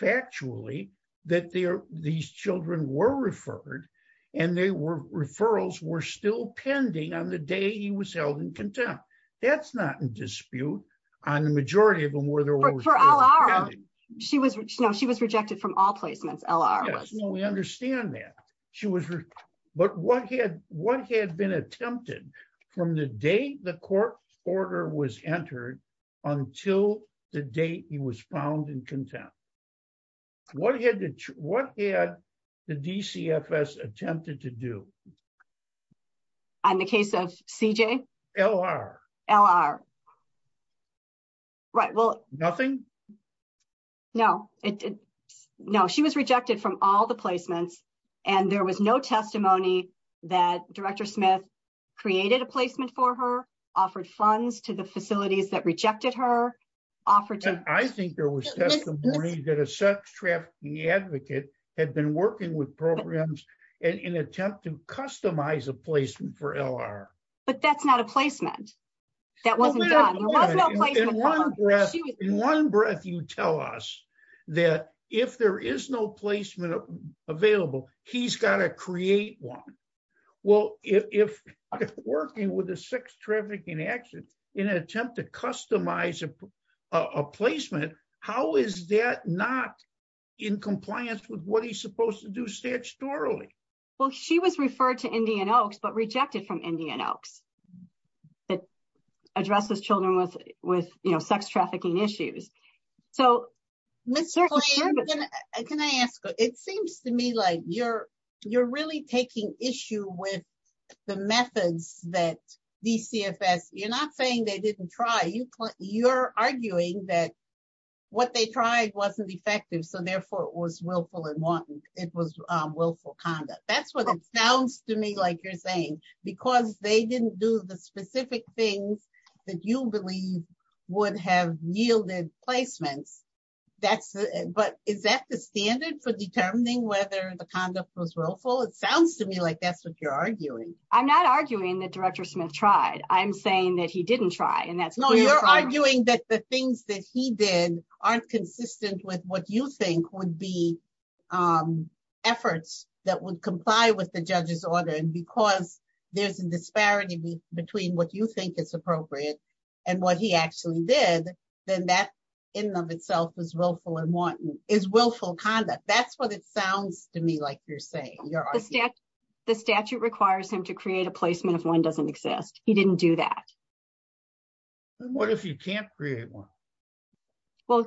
factually, that these children were referred and the referrals were still pending on the day he was held in contempt. That's not in dispute on the majority of them. She was rejected from all placements. Yes, we understand that. But what had been attempted from the date the court order was entered until the date he was found in contempt? What had the DCFS attempted to do? In the case of CJ? LR. LR. Nothing? No. No, she was rejected from all the placements, and there was no testimony that Director Smith created a placement for her, offered funds to the facilities that rejected her. I think there was testimony that a sex trafficking advocate had been working with programs in an attempt to customize a placement for LR. But that's not a placement. In one breath you tell us that if there is no placement available, he's got to create one. Well, if working with a sex trafficking advocate in an attempt to customize a placement, how is that not in compliance with what he's supposed to do statutorily? Well, she was referred to Indian Oaks but rejected from Indian Oaks. It addresses children with sex trafficking issues. So, can I ask, it seems to me like you're, you're really taking issue with the methods that DCFS, you're not saying they didn't try, you're arguing that what they tried wasn't effective so therefore it was willful and wanton, it was willful conduct. That's what it sounds to me like you're saying, because they didn't do the specific things that you believe would have yielded placement. But is that the standard for determining whether the conduct was willful? It sounds to me like that's what you're arguing. I'm not arguing that Director Smith tried. I'm saying that he didn't try. No, you're arguing that the things that he did aren't consistent with what you think would be efforts that would comply with the judge's order. And because there's a disparity between what you think is appropriate and what he actually did, then that in and of itself is willful and wanton, is willful conduct. That's what it sounds to me like you're saying. The statute requires him to create a placement if one doesn't exist. He didn't do that. What if he can't create one? Well,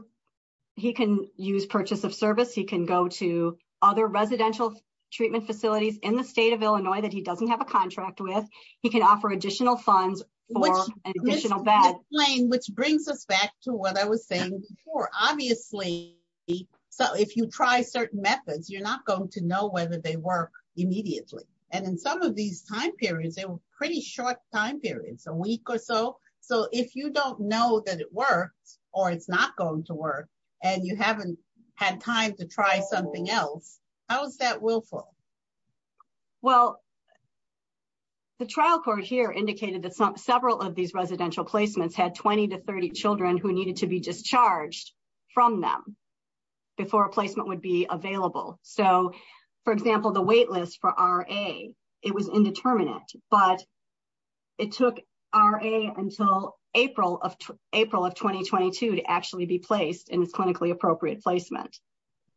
he can use purchase of service. He can go to other residential treatment facilities in the state of Illinois that he doesn't have a contract with. He can offer additional funds for additional beds. Which brings us back to what I was saying before. Obviously, if you try certain methods, you're not going to know whether they work immediately. And in some of these time periods, they were pretty short time periods, a week or so. So if you don't know that it works, or it's not going to work, and you haven't had time to try something else, how is that willful? Well, the trial court here indicated that several of these residential placements had 20 to 30 children who needed to be discharged from them before a placement would be available. So, for example, the wait list for RA, it was indeterminate, but it took RA until April of 2022 to actually be placed in a clinically appropriate placement.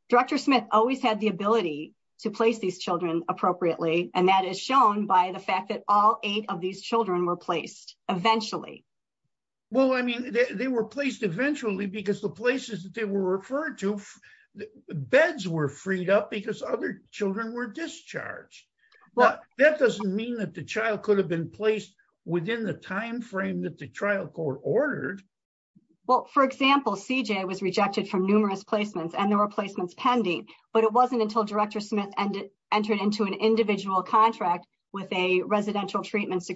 Director Smith always had the ability to place these children appropriately, and that is shown by the fact that all eight of these children were placed eventually. Well, I mean, they were placed eventually because the places that they were referred to, beds were freed up because other children were discharged. But that doesn't mean that the child could have been placed within the timeframe that the trial court ordered. Well, for example, CJ was rejected from numerous placements, and there were placements pending. But it wasn't until Director Smith entered into an individual contract with a residential treatment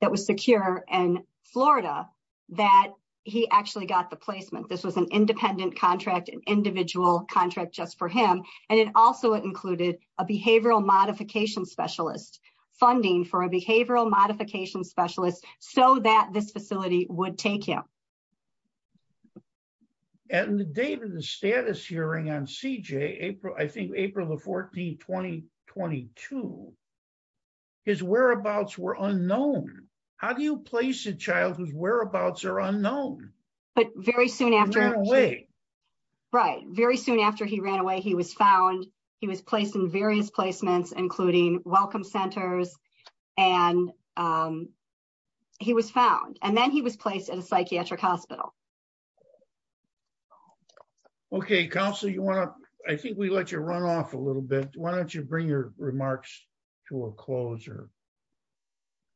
that was secure in Florida that he actually got the placement. This was an independent contract, an individual contract just for him. And it also included a behavioral modification specialist, funding for a behavioral modification specialist so that this facility would take him. And the date of the status hearing on CJ, I think April 14, 2022, his whereabouts were unknown. How do you place a child whose whereabouts are unknown? But very soon after he ran away. Right. Very soon after he ran away, he was found. He was placed in various placements, including welcome centers, and he was found. And then he was placed in a psychiatric hospital. Okay. Counselor, I think we let you run off a little bit. Why don't you bring your remarks to a closure?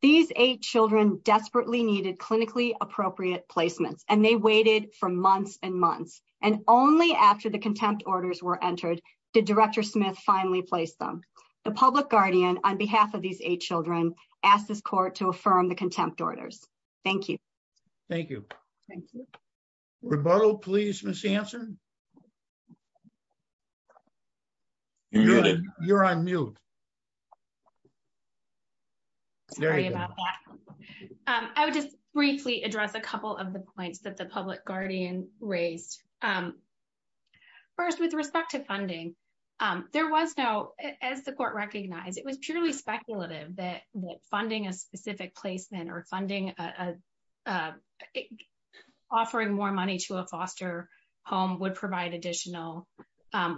These eight children desperately needed clinically appropriate placement, and they waited for months and months. And only after the contempt orders were entered did Director Smith finally place them. The public guardian, on behalf of these eight children, asked this court to affirm the contempt orders. Thank you. Thank you. Thank you. Rebuttal, please, Ms. Hanson. You're on mute. Sorry about that. I would just briefly address a couple of the points that the public guardian raised. First, with respect to funding, there was no, as the court recognized, it was purely speculative that funding a specific placement or funding offering more money to a foster home would provide additional,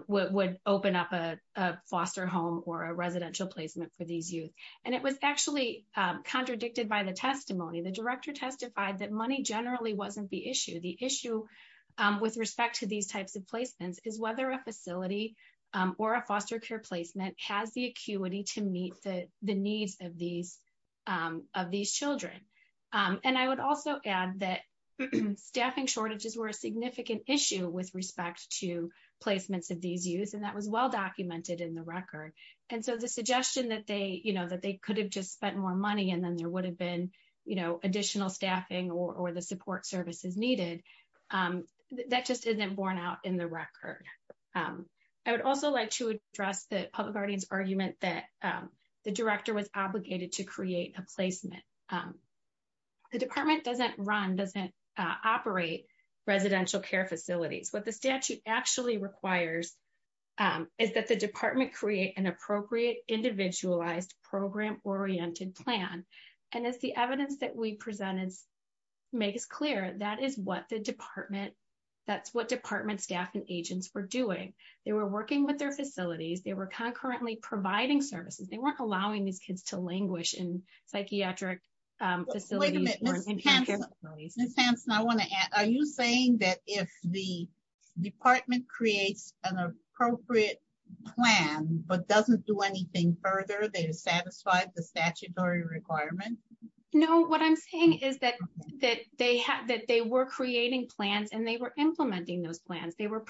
would open up a foster home or a residential placement for these youth. And it was actually contradicted by the testimony. The director testified that money generally wasn't the issue. The issue with respect to these types of placements is whether a facility or a foster peer placement has the acuity to meet the needs of these children. And I would also add that staffing shortages were a significant issue with respect to placements of these youth, and that was well documented in the record. And so the suggestion that they, you know, that they could have just spent more money and then there would have been, you know, additional staffing or the support services needed, that just isn't borne out in the record. I would also like to address the public guardian's argument that the director was obligated to create a placement. The department doesn't run, doesn't operate residential care facilities. What the statute actually requires is that the department create an appropriate, individualized, program-oriented plan. And it's the evidence that we presented to make it clear that is what the department, that's what department staff and agents were doing. They were working with their facilities. They were concurrently providing services. They weren't allowing these kids to languish in psychiatric facilities. Ms. Hansen, I want to ask, are you saying that if the department creates an appropriate plan, but doesn't do anything further to satisfy the statutory requirements? No, what I'm saying is that they were creating plans and they were implementing those plans. They were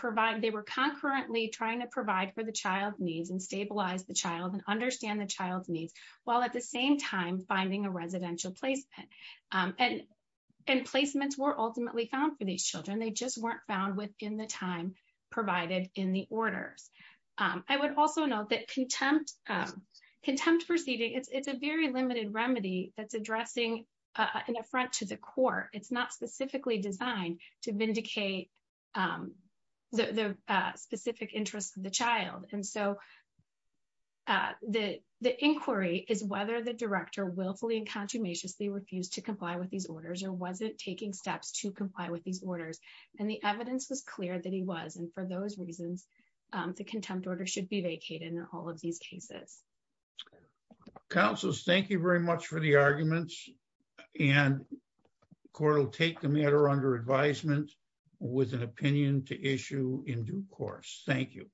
concurrently trying to provide for the child's needs and stabilize the child and understand the child's needs, while at the same time finding a residential placement. And placements were ultimately found for these children. They just weren't found within the time provided in the order. I would also note that contempt proceedings, it's a very limited remedy that's addressing an affront to the court. It's not specifically designed to vindicate the specific interest of the child. The inquiry is whether the director willfully and consummation refused to comply with these orders or wasn't taking steps to comply with these orders. And the evidence was clear that he was. And for those reasons, the contempt order should be vacated in all of these cases. Counsel, thank you very much for the arguments. And the court will take the matter under advisement with an opinion to issue in due course. Thank you.